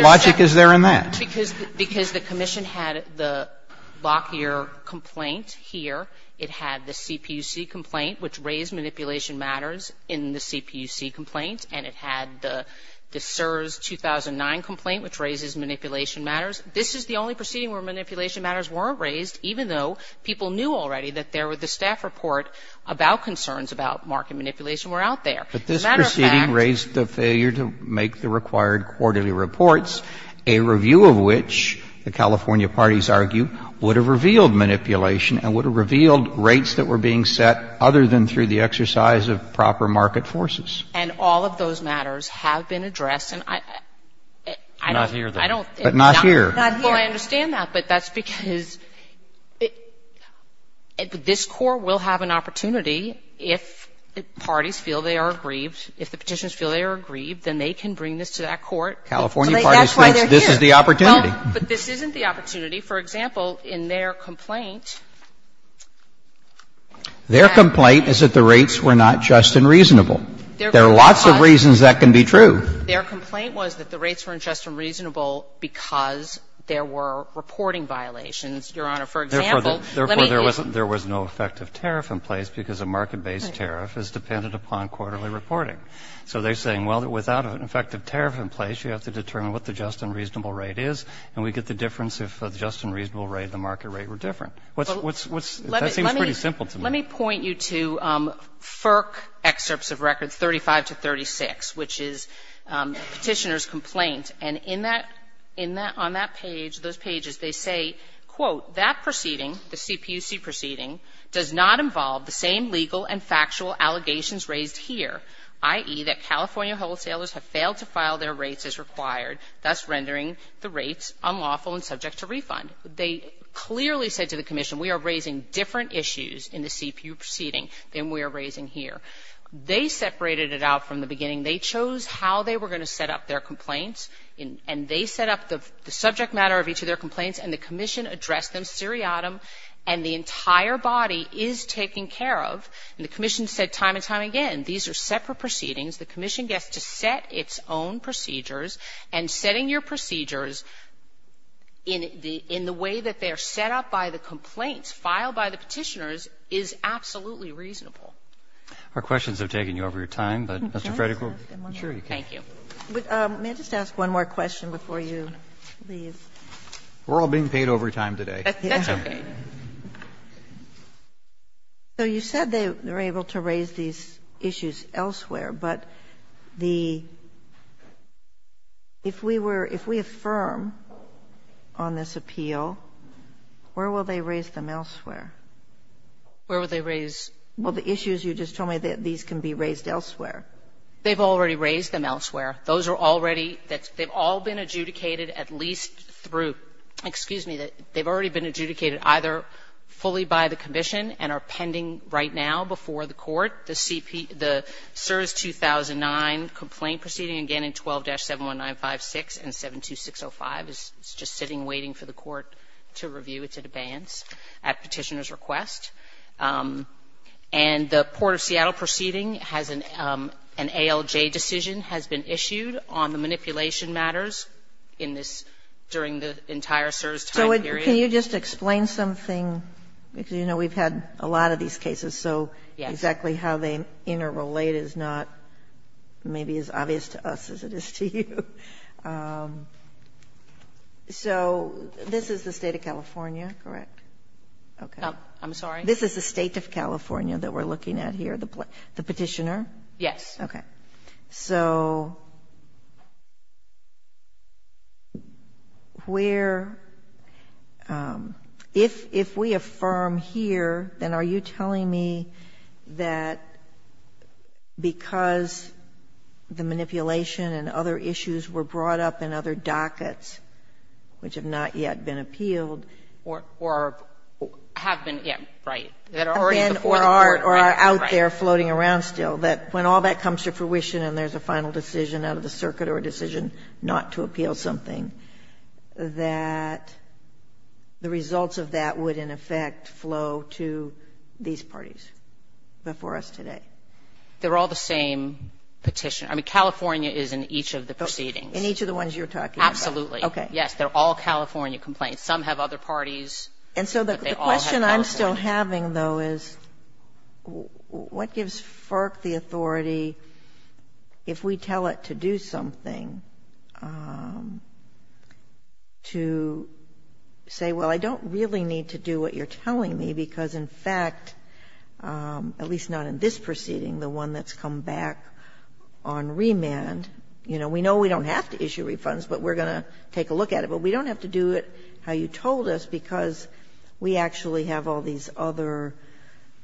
logic is there in that? Because the commission had the Lockyer complaint here. It had the CPUC complaint, which raised manipulation matters in the CPUC complaint, and it had the CSRS-2009 complaint, which raises manipulation matters. This is the only proceeding where manipulation matters weren't raised, even though people knew already that there were the staff report about concerns about market As a matter of fact. Roberts, but this proceeding raised the failure to make the required quarterly reports, a review of which the California parties argue would have revealed manipulation and would have revealed rates that were being set other than through the exercise of proper market forces. And all of those matters have been addressed. And I don't. But not here. Not here. Well, I understand that, but that's because this Court will have an opportunity if the parties feel they are aggrieved, if the Petitions feel they are aggrieved, then they can bring this to that Court. California parties think this is the opportunity. But this isn't the opportunity. For example, in their complaint. Their complaint is that the rates were not just and reasonable. There are lots of reasons that can be true. Their complaint was that the rates weren't just and reasonable because there were reporting violations, Your Honor. For example, let me use. Therefore, there was no effective tariff in place because a market-based tariff is dependent upon quarterly reporting. So they're saying, well, without an effective tariff in place, you have to determine what the just and reasonable rate is, and we get the difference if the just and reasonable rate and the market rate were different. That seems pretty simple to me. Let me point you to FERC excerpts of records 35 to 36, which is Petitioner's complaint. And in that, on that page, those pages, they say, quote, that proceeding, the CPUC proceeding, does not involve the same legal and factual allegations raised here, i.e., that California wholesalers have failed to file their rates as required, clearly said to the commission, we are raising different issues in the CPUC proceeding than we are raising here. They separated it out from the beginning. They chose how they were going to set up their complaints, and they set up the subject matter of each of their complaints, and the commission addressed them seriatim, and the entire body is taken care of. And the commission said time and time again, these are separate proceedings. The commission gets to set its own procedures, and setting your procedures in the way that they are set up by the complaints filed by the Petitioners is absolutely reasonable. Roberts. Our questions have taken you over your time, but, Mr. Frederick, I'm sure you can. Thank you. May I just ask one more question before you leave? We're all being paid overtime today. That's okay. So you said they were able to raise these issues elsewhere, but the ---- if we were ---- if we affirm on this appeal, where will they raise them elsewhere? Where will they raise? Well, the issues you just told me, these can be raised elsewhere. They've already raised them elsewhere. Those are already ---- they've all been adjudicated at least through ---- excuse me, they've already been adjudicated either fully by the commission and are pending right now before the court. The CSRS 2009 complaint proceeding, again, in 12-71956 and 72605 is just sitting waiting for the court to review. It's at abeyance at Petitioner's request. And the Port of Seattle proceeding has an ALJ decision has been issued on the manipulation matters in this ---- during the entire CSRS time. So can you just explain something? Because, you know, we've had a lot of these cases, so exactly how they interrelate is not maybe as obvious to us as it is to you. So this is the State of California, correct? I'm sorry? This is the State of California that we're looking at here, the Petitioner? Yes. Okay. So where ---- if we affirm here, then are you telling me that because the manipulation and other issues were brought up in other dockets which have not yet been appealed or have been ---- Yes, right. That are already before the court. Right, right. Or are out there floating around still, that when all that comes to fruition and there's a final decision out of the circuit or a decision not to appeal something, that the results of that would in effect flow to these parties before us today? They're all the same Petitioner. I mean, California is in each of the proceedings. In each of the ones you're talking about. Yes. They're all California complaints. Some have other parties, but they all have California. And so the question I'm still having, though, is what gives FERC the authority if we tell it to do something, to say, well, I don't really need to do what you're telling me, because in fact, at least not in this proceeding, the one that's come back on remand, you know, we know we don't have to issue refunds, but we're going to take a look at it, but we don't have to do it how you told us, because we actually have all these other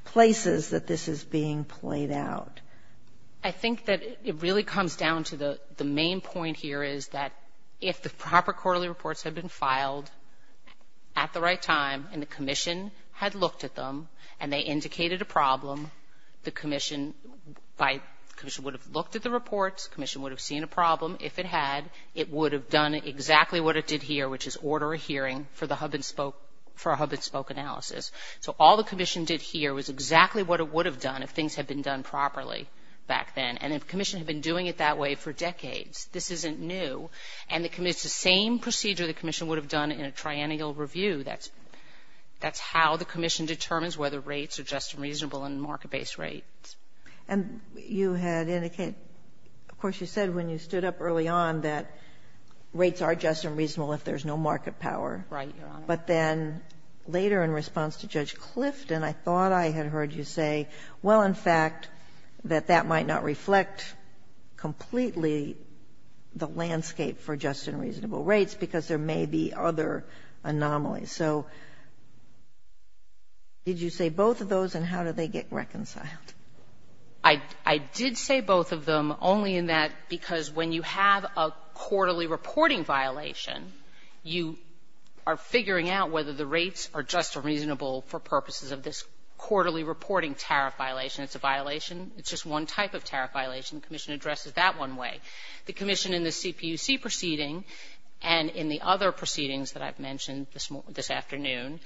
places that this is being played out. I think that it really comes down to the main point here is that if the proper quarterly reports had been filed at the right time and the commission had looked at them and they indicated a problem, the commission by the commission would have looked at the reports, the commission would have seen a problem. If it had, it would have done exactly what it did here, which is order a hearing for the hub-and-spoke analysis. So all the commission did here was exactly what it would have done if things had been done properly back then. And the commission had been doing it that way for decades. This isn't new. And it's the same procedure the commission would have done in a triennial review. That's how the commission determines whether rates are just and reasonable and market-based rates. And you had indicated, of course, you said when you stood up early on that rates are just and reasonable if there's no market power. Right, Your Honor. But then later in response to Judge Clifton, I thought I had heard you say, well, in fact, that that might not reflect completely the landscape for just and reasonable rates because there may be other anomalies. So did you say both of those, and how do they get reconciled? I did say both of them, only in that because when you have a quarterly reporting violation, you are figuring out whether the rates are just and reasonable for purposes of this quarterly reporting tariff violation. It's a violation. It's just one type of tariff violation. The commission addresses that one way. The commission in the CPUC proceeding and in the other proceedings that I've mentioned this afternoon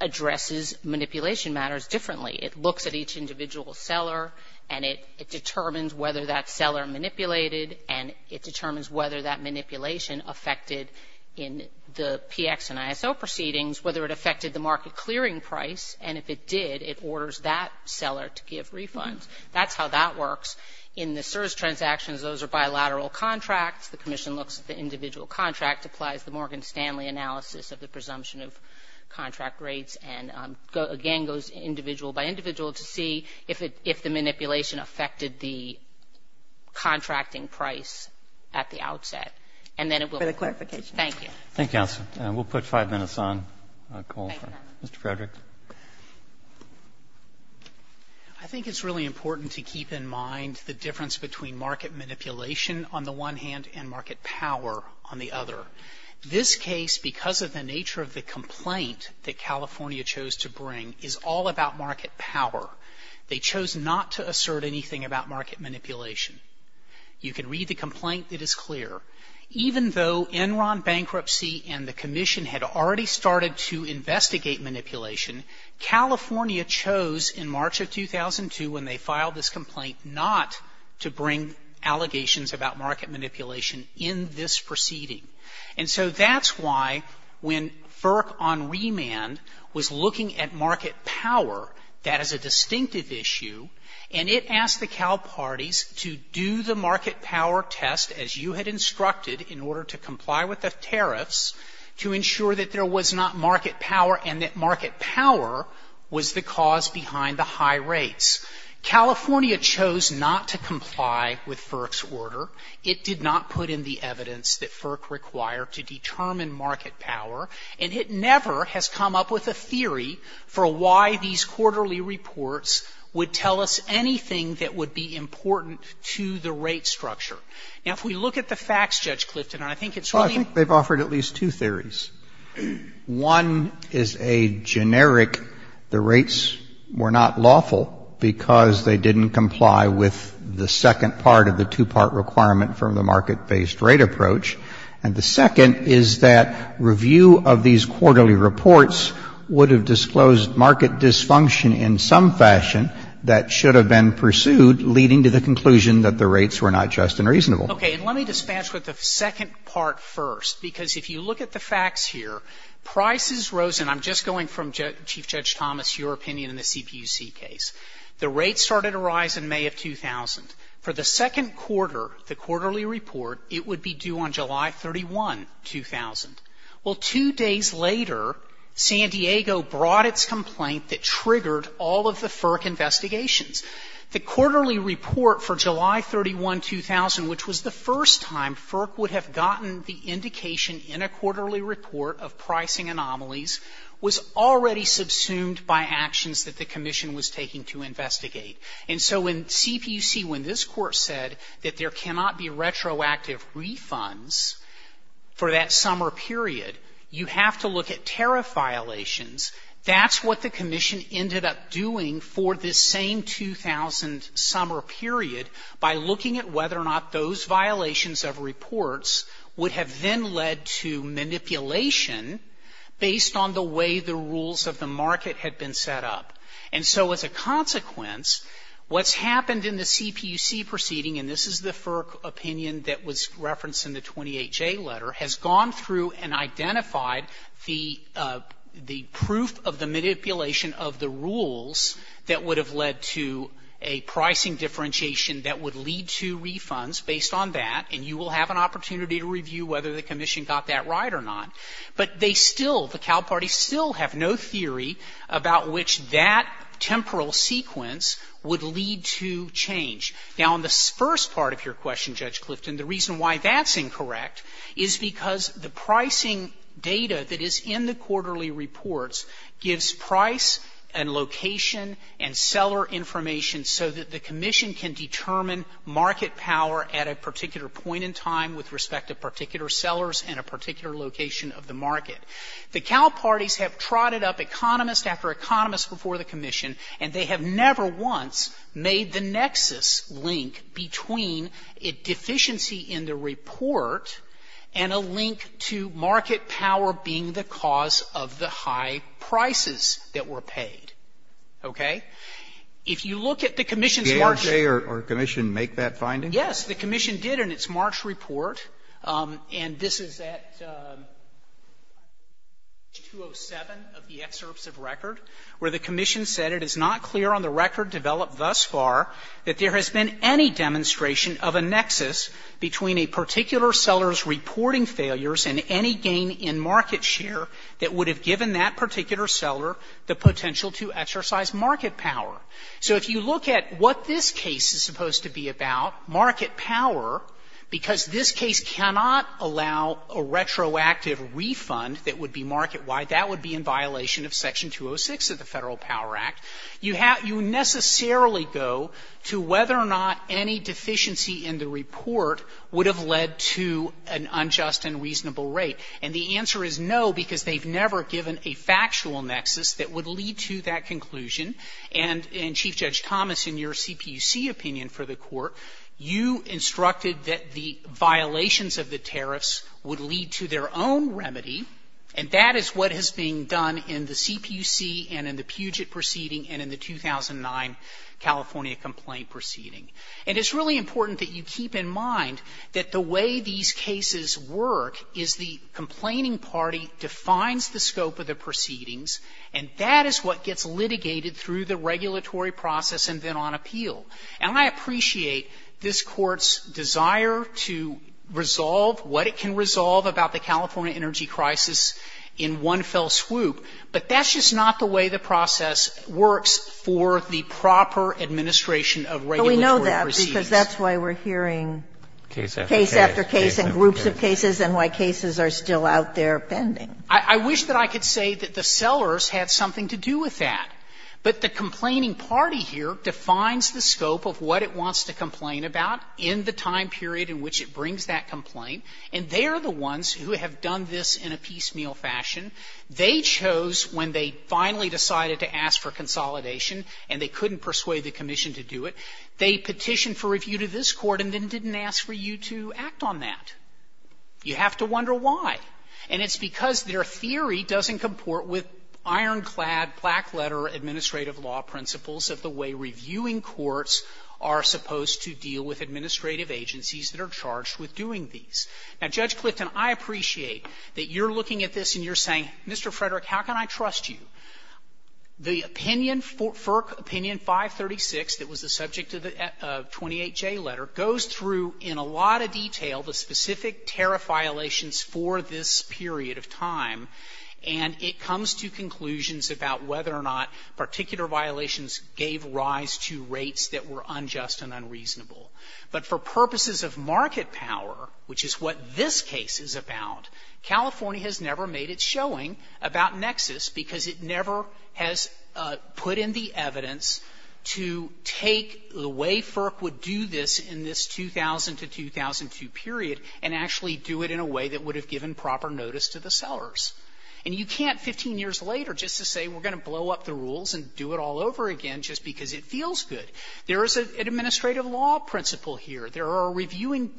addresses manipulation matters differently. It looks at each individual seller and it determines whether that seller manipulated and it determines whether that manipulation affected in the PX and ISO proceedings, whether it affected the market clearing price, and if it did, it orders that seller to give refunds. That's how that works. In the CSRS transactions, those are bilateral contracts. The commission looks at the individual contract, applies the Morgan Stanley analysis of the presumption of contract rates, and again goes individual by individual to see if the manipulation affected the contracting price at the outset. For the clarification. Thank you. Thank you, Counsel. We'll put five minutes on call for Mr. Frederick. I think it's really important to keep in mind the difference between market manipulation on the one hand and market power on the other. This case, because of the nature of the complaint that California chose to bring, is all about market power. They chose not to assert anything about market manipulation. You can read the complaint. It is clear. Even though Enron bankruptcy and the commission had already started to investigate manipulation, California chose in March of 2002 when they filed this complaint not to bring allegations about market manipulation in this proceeding. And so that's why when FERC on remand was looking at market power, that is a distinctive issue, and it asked the Cal Parties to do the market power test as you had instructed in order to comply with the tariffs to ensure that there was not market power and that market power was the cause behind the high rates. California chose not to comply with FERC's order. It did not put in the evidence that FERC required to determine market power. And it never has come up with a theory for why these quarterly reports would tell us anything that would be important to the rate structure. Now, if we look at the facts, Judge Clifton, and I think it's really — Well, I think they've offered at least two theories. One is a generic, the rates were not lawful because they didn't comply with the second part of the two-part requirement from the market-based rate approach. And the second is that review of these quarterly reports would have disclosed market dysfunction in some fashion that should have been pursued, leading to the conclusion that the rates were not just and reasonable. Okay. And let me dispatch with the second part first, because if you look at the facts here, prices rose, and I'm just going from, Chief Judge Thomas, your opinion in the CPUC case. The rates started to rise in May of 2000. For the second quarter, the quarterly report, it would be due on July 31, 2000. Well, two days later, San Diego brought its complaint that triggered all of the FERC investigations. The quarterly report for July 31, 2000, which was the first time FERC would have gotten the indication in a quarterly report of pricing anomalies, was already subsumed by actions that the Commission was taking to investigate. And so in CPUC, when this Court said that there cannot be retroactive refunds for that summer period, you have to look at tariff violations. That's what the Commission ended up doing for this same 2000 summer period by looking at whether or not those violations of reports would have then led to manipulation based on the way the rules of the market had been set up. And so as a consequence, what's happened in the CPUC proceeding, and this is the FERC opinion that was referenced in the 28J letter, has gone through and identified the proof of the manipulation of the rules that would have led to a pricing differentiation that would lead to refunds based on that, and you will have an opportunity to review whether the Commission got that right or not. But they still, the Cal Parties still have no theory about which that temporal sequence would lead to change. Now, on the first part of your question, Judge Clifton, the reason why that's incorrect is because the pricing data that is in the quarterly reports gives price and location and seller information so that the Commission can determine market power at a particular point in time with respect to particular sellers and a particular location of the market. The Cal Parties have trotted up economist after economist before the Commission, and they have never once made the nexus link between a deficiency in the report and a link to market power being the cause of the high prices that were paid. Okay? If you look at the Commission's March ---- Alitos, or Commission make that finding? Yes. The Commission did in its March report, and this is at page 207 of the excerpts of record, where the Commission said, It is not clear on the record developed thus far that there has been any demonstration of a nexus between a particular seller's reporting failures and any gain in market share that would have given that particular seller the potential to exercise market power. So if you look at what this case is supposed to be about, market power, because this case cannot allow a retroactive refund that would be market-wide, that would not be in violation of Section 206 of the Federal Power Act, you have to necessarily go to whether or not any deficiency in the report would have led to an unjust and reasonable rate. And the answer is no, because they've never given a factual nexus that would lead to that conclusion. And, Chief Judge Thomas, in your CPUC opinion for the Court, you instructed that the violations of the tariffs would lead to their own remedy, and that is what is being done in the CPUC and in the Puget proceeding and in the 2009 California complaint proceeding. And it's really important that you keep in mind that the way these cases work is the complaining party defines the scope of the proceedings, and that is what gets litigated through the regulatory process and then on appeal. And I appreciate this Court's desire to resolve what it can resolve about the California energy crisis in one fell swoop, but that's just not the way the process works for the proper administration of regulatory proceedings. But we know that, because that's why we're hearing case after case and groups of cases and why cases are still out there pending. I wish that I could say that the sellers had something to do with that. But the complaining party here defines the scope of what it wants to complain about in the time period in which it brings that complaint, and they are the ones who have done this in a piecemeal fashion. They chose, when they finally decided to ask for consolidation and they couldn't persuade the commission to do it, they petitioned for review to this Court and then didn't ask for you to act on that. You have to wonder why. And it's because their theory doesn't comport with ironclad, black-letter administrative law principles of the way reviewing courts are supposed to deal with administrative agencies that are charged with doing these. Now, Judge Clifton, I appreciate that you're looking at this and you're saying, Mr. Frederick, how can I trust you? The opinion, FERC opinion 536, that was the subject of the 28J letter, goes through in a lot of detail the specific tariff violations for this period of time, and it comes to conclusions about whether or not particular violations gave rise to rates that were unjust and unreasonable. But for purposes of market power, which is what this case is about, California has never made its showing about Nexus because it never has put in the evidence to take the way FERC would do this in this 2000 to 2002 period and actually do it in a way that would have given proper notice to the sellers. And you can't, 15 years later, just to say we're going to blow up the rules and do it all over again just because it feels good. There is an administrative law principle here. There are reviewing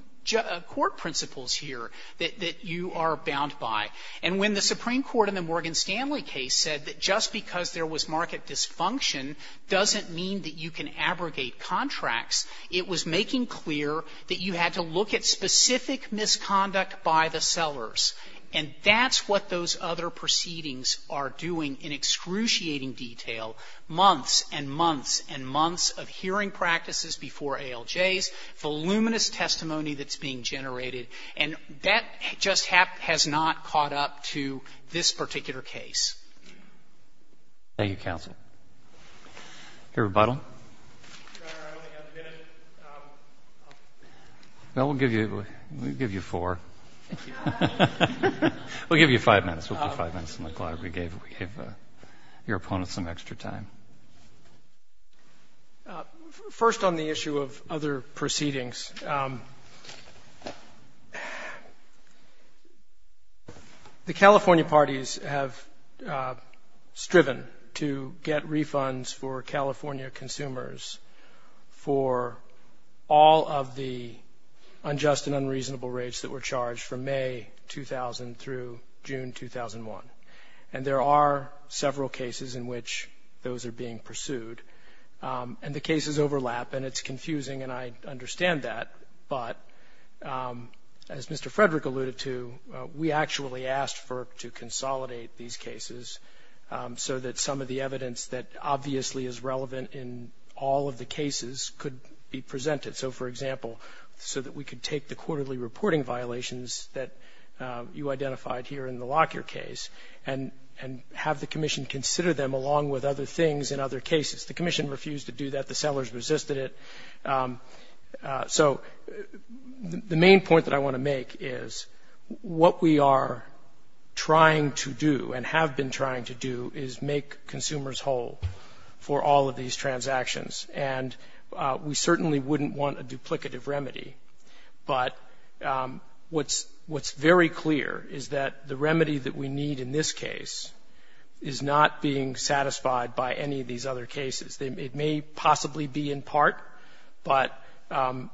court principles here that you are bound by. And when the Supreme Court in the Morgan Stanley case said that just because there was market dysfunction doesn't mean that you can abrogate contracts, it was making clear that you had to look at specific misconduct by the sellers. And that's what those other proceedings are doing in excruciating detail, months and months and months of hearing practices before ALJs, voluminous testimony that's being generated. And that just has not caught up to this particular case. Thank you, counsel. Your rebuttal? Your Honor, I only have a minute. Well, we'll give you four. Thank you. We'll give you five minutes. We'll give you five minutes on the clock. We gave your opponent some extra time. First on the issue of other proceedings, the California parties have striven to get refunds for California consumers for all of the unjust and unreasonable rates that were charged from May 2000 through June 2001. And there are several cases in which those are being pursued. And the cases overlap, and it's confusing, and I understand that. But as Mr. Frederick alluded to, we actually asked FERC to consolidate these cases so that some of the evidence that obviously is relevant in all of the cases could be presented. So, for example, so that we could take the quarterly reporting violations that you identified here in the Lockyer case and have the commission consider them along with other things in other cases. The commission refused to do that. The sellers resisted it. So the main point that I want to make is what we are trying to do and have been trying to do is make consumers whole for all of these transactions. And we certainly wouldn't want a duplicative remedy. But what's very clear is that the remedy that we need in this case is not being satisfied by any of these other cases. It may possibly be in part, but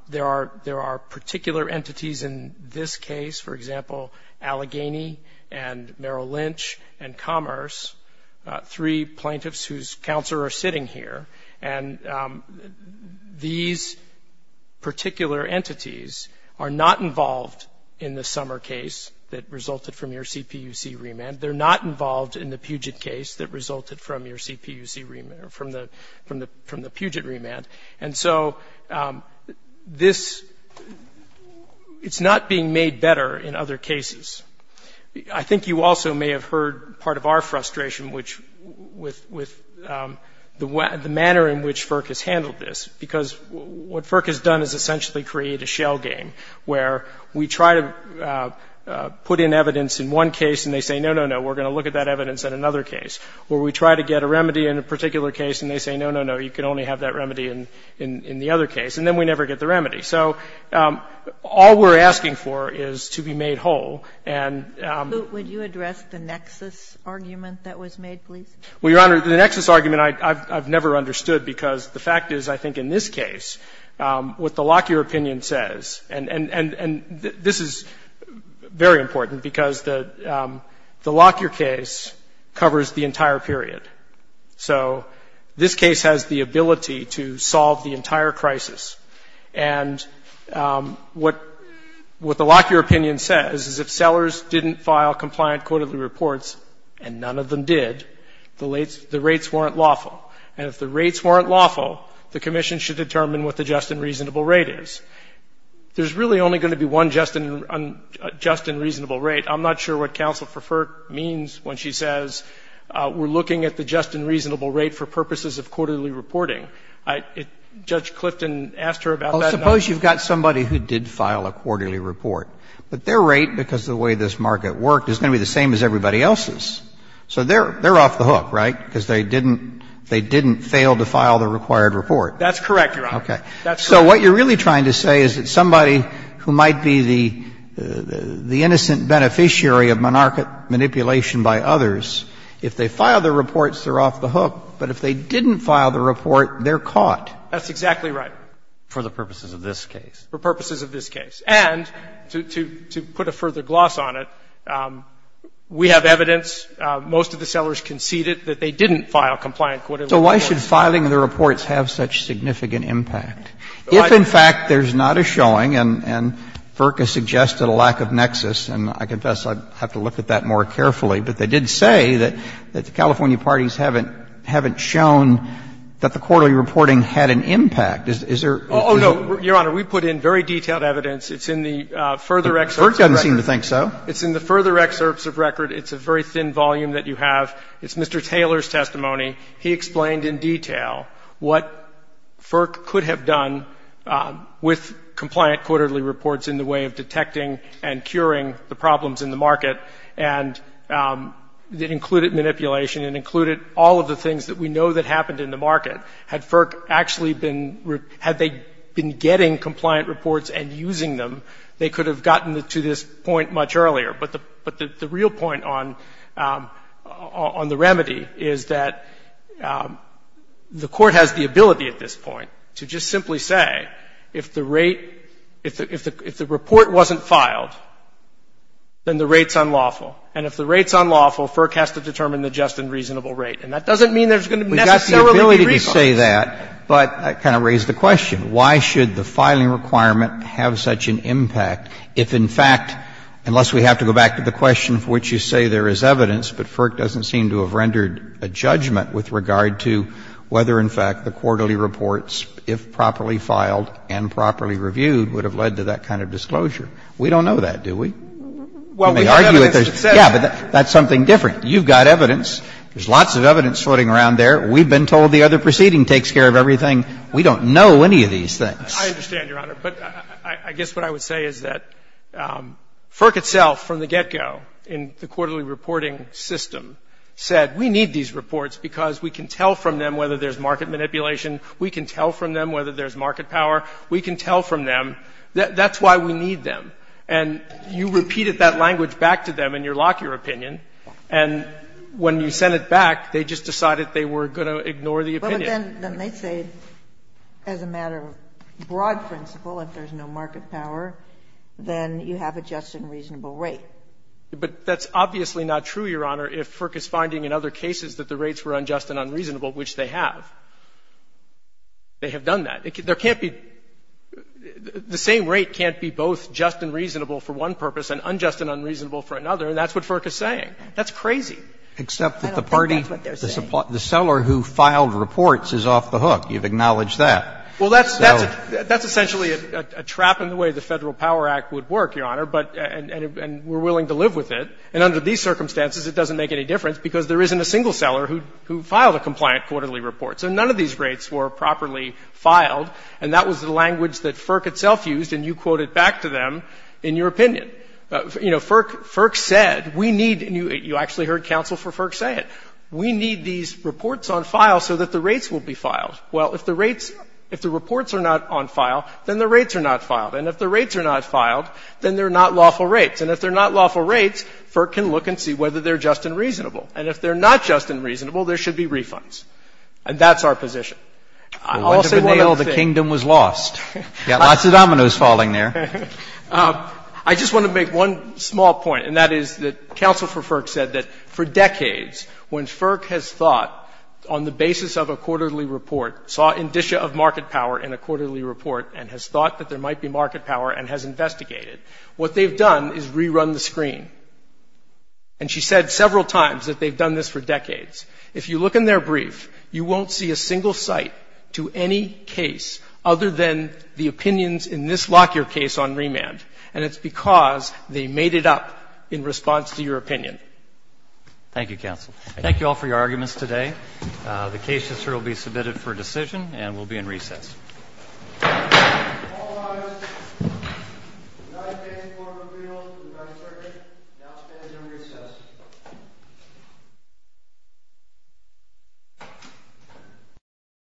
there are particular entities in this case, for example, Allegheny and Merrill Lynch and Commerce, three plaintiffs whose counsel are sitting here. And these particular entities are not involved in the summer case that resulted from your CPUC remand. They're not involved in the Puget case that resulted from your CPUC remand or from the Puget remand. And so this, it's not being made better in other cases. And so we're going to have to look at the way in which FERC has handled this, because what FERC has done is essentially create a shell game where we try to put in evidence in one case and they say, no, no, no, we're going to look at that evidence in another case. Or we try to get a remedy in a particular case and they say, no, no, no, you can only have that remedy in the other case. And then we never get the remedy. So all we're asking for is to be made whole. Sotomayor, would you address the nexus argument that was made, please? Well, Your Honor, the nexus argument I've never understood, because the fact is, I think in this case, what the Lockyer opinion says, and this is very important, because the Lockyer case covers the entire period. So this case has the ability to solve the entire crisis. And what the Lockyer opinion says is if sellers didn't file compliant quarterly reports, and none of them did, the rates weren't lawful. And if the rates weren't lawful, the commission should determine what the just and reasonable rate is. There's really only going to be one just and reasonable rate. I'm not sure what counsel for FERC means when she says we're looking at the just and reasonable rate for purposes of quarterly reporting. Judge Clifton asked her about that. Suppose you've got somebody who did file a quarterly report, but their rate, because of the way this market worked, is going to be the same as everybody else's. So they're off the hook, right? Because they didn't fail to file the required report. That's correct, Your Honor. Okay. So what you're really trying to say is that somebody who might be the innocent beneficiary of monarchic manipulation by others, if they file their reports, they're off the hook, but if they didn't file the report, they're caught. That's exactly right. For the purposes of this case. For purposes of this case. And to put a further gloss on it, we have evidence, most of the sellers conceded that they didn't file compliant quarterly reports. So why should filing the reports have such significant impact? If, in fact, there's not a showing, and FERC has suggested a lack of nexus, and I confess I'd have to look at that more carefully, but they did say that the California parties haven't shown that the quarterly reporting had an impact. Is there? Oh, no. Your Honor, we put in very detailed evidence. It's in the further excerpts of record. FERC doesn't seem to think so. It's in the further excerpts of record. It's a very thin volume that you have. It's Mr. Taylor's testimony. He explained in detail what FERC could have done with compliant quarterly reports in the way of detecting and curing the problems in the market, and that included manipulation and included all of the things that we know that happened in the market. Had FERC actually been ‑‑ had they been getting compliant reports and using them, they could have gotten to this point much earlier. But the real point on the remedy is that the Court has the ability at this point to just simply say if the rate ‑‑ if the report wasn't filed, then the rate's unlawful. And if the rate's unlawful, FERC has to determine the just and reasonable rate. And that doesn't mean there's going to necessarily be reasons. We've got the ability to say that, but that kind of raised the question. Why should the filing requirement have such an impact if, in fact, unless we have to go back to the question of which you say there is evidence, but FERC doesn't seem to have rendered a judgment with regard to whether, in fact, the quarterly reports, if properly filed and properly reviewed, would have led to that kind of disclosure. We don't know that, do we? You may argue that there's ‑‑ Well, we have evidence that says ‑‑ Yeah, but that's something different. You've got evidence. There's lots of evidence floating around there. We've been told the other proceeding takes care of everything. We don't know any of these things. I understand, Your Honor. But I guess what I would say is that FERC itself from the get‑go in the quarterly reporting system said we need these reports because we can tell from them whether there's market manipulation, we can tell from them whether there's market power, we can tell from them. That's why we need them. And you repeated that language back to them in your Lockyer opinion, and when you sent it back, they just decided they were going to ignore the opinion. But then they say, as a matter of broad principle, if there's no market power, then you have a just and reasonable rate. But that's obviously not true, Your Honor, if FERC is finding in other cases that the rates were unjust and unreasonable, which they have. They have done that. There can't be ‑‑ the same rate can't be both just and reasonable for one purpose and unjust and unreasonable for another. And that's what FERC is saying. I don't think that's what they're saying. Except that the party ‑‑ the seller who filed reports is off the hook. You've acknowledged that. Well, that's essentially a trap in the way the Federal Power Act would work, Your Honor, and we're willing to live with it. And under these circumstances, it doesn't make any difference because there isn't a single seller who filed a compliant quarterly report. So none of these rates were properly filed, and that was the language that FERC itself used, and you quoted back to them in your opinion. You know, FERC said we need ‑‑ and you actually heard counsel for FERC say it. We need these reports on file so that the rates will be filed. Well, if the rates ‑‑ if the reports are not on file, then the rates are not filed. And if the rates are not filed, then they're not lawful rates. And if they're not lawful rates, FERC can look and see whether they're just and reasonable. And if they're not just and reasonable, there should be refunds. And that's our position. I'll say one other thing. Well, wind of a nail, the kingdom was lost. You've got lots of dominoes falling there. I just want to make one small point, and that is that counsel for FERC said that for decades, when FERC has thought on the basis of a quarterly report, saw indicia of market power in a quarterly report and has thought that there might be market power and has investigated, what they've done is rerun the screen. And she said several times that they've done this for decades. If you look in their brief, you won't see a single cite to any case other than the opinions in this Lockyer case on remand. And it's because they made it up in response to your opinion. Thank you, counsel. Thank you all for your arguments today. The case will be submitted for decision and will be in recess. All rise. The United States Court of Appeals for the 9th Circuit now stands in recess.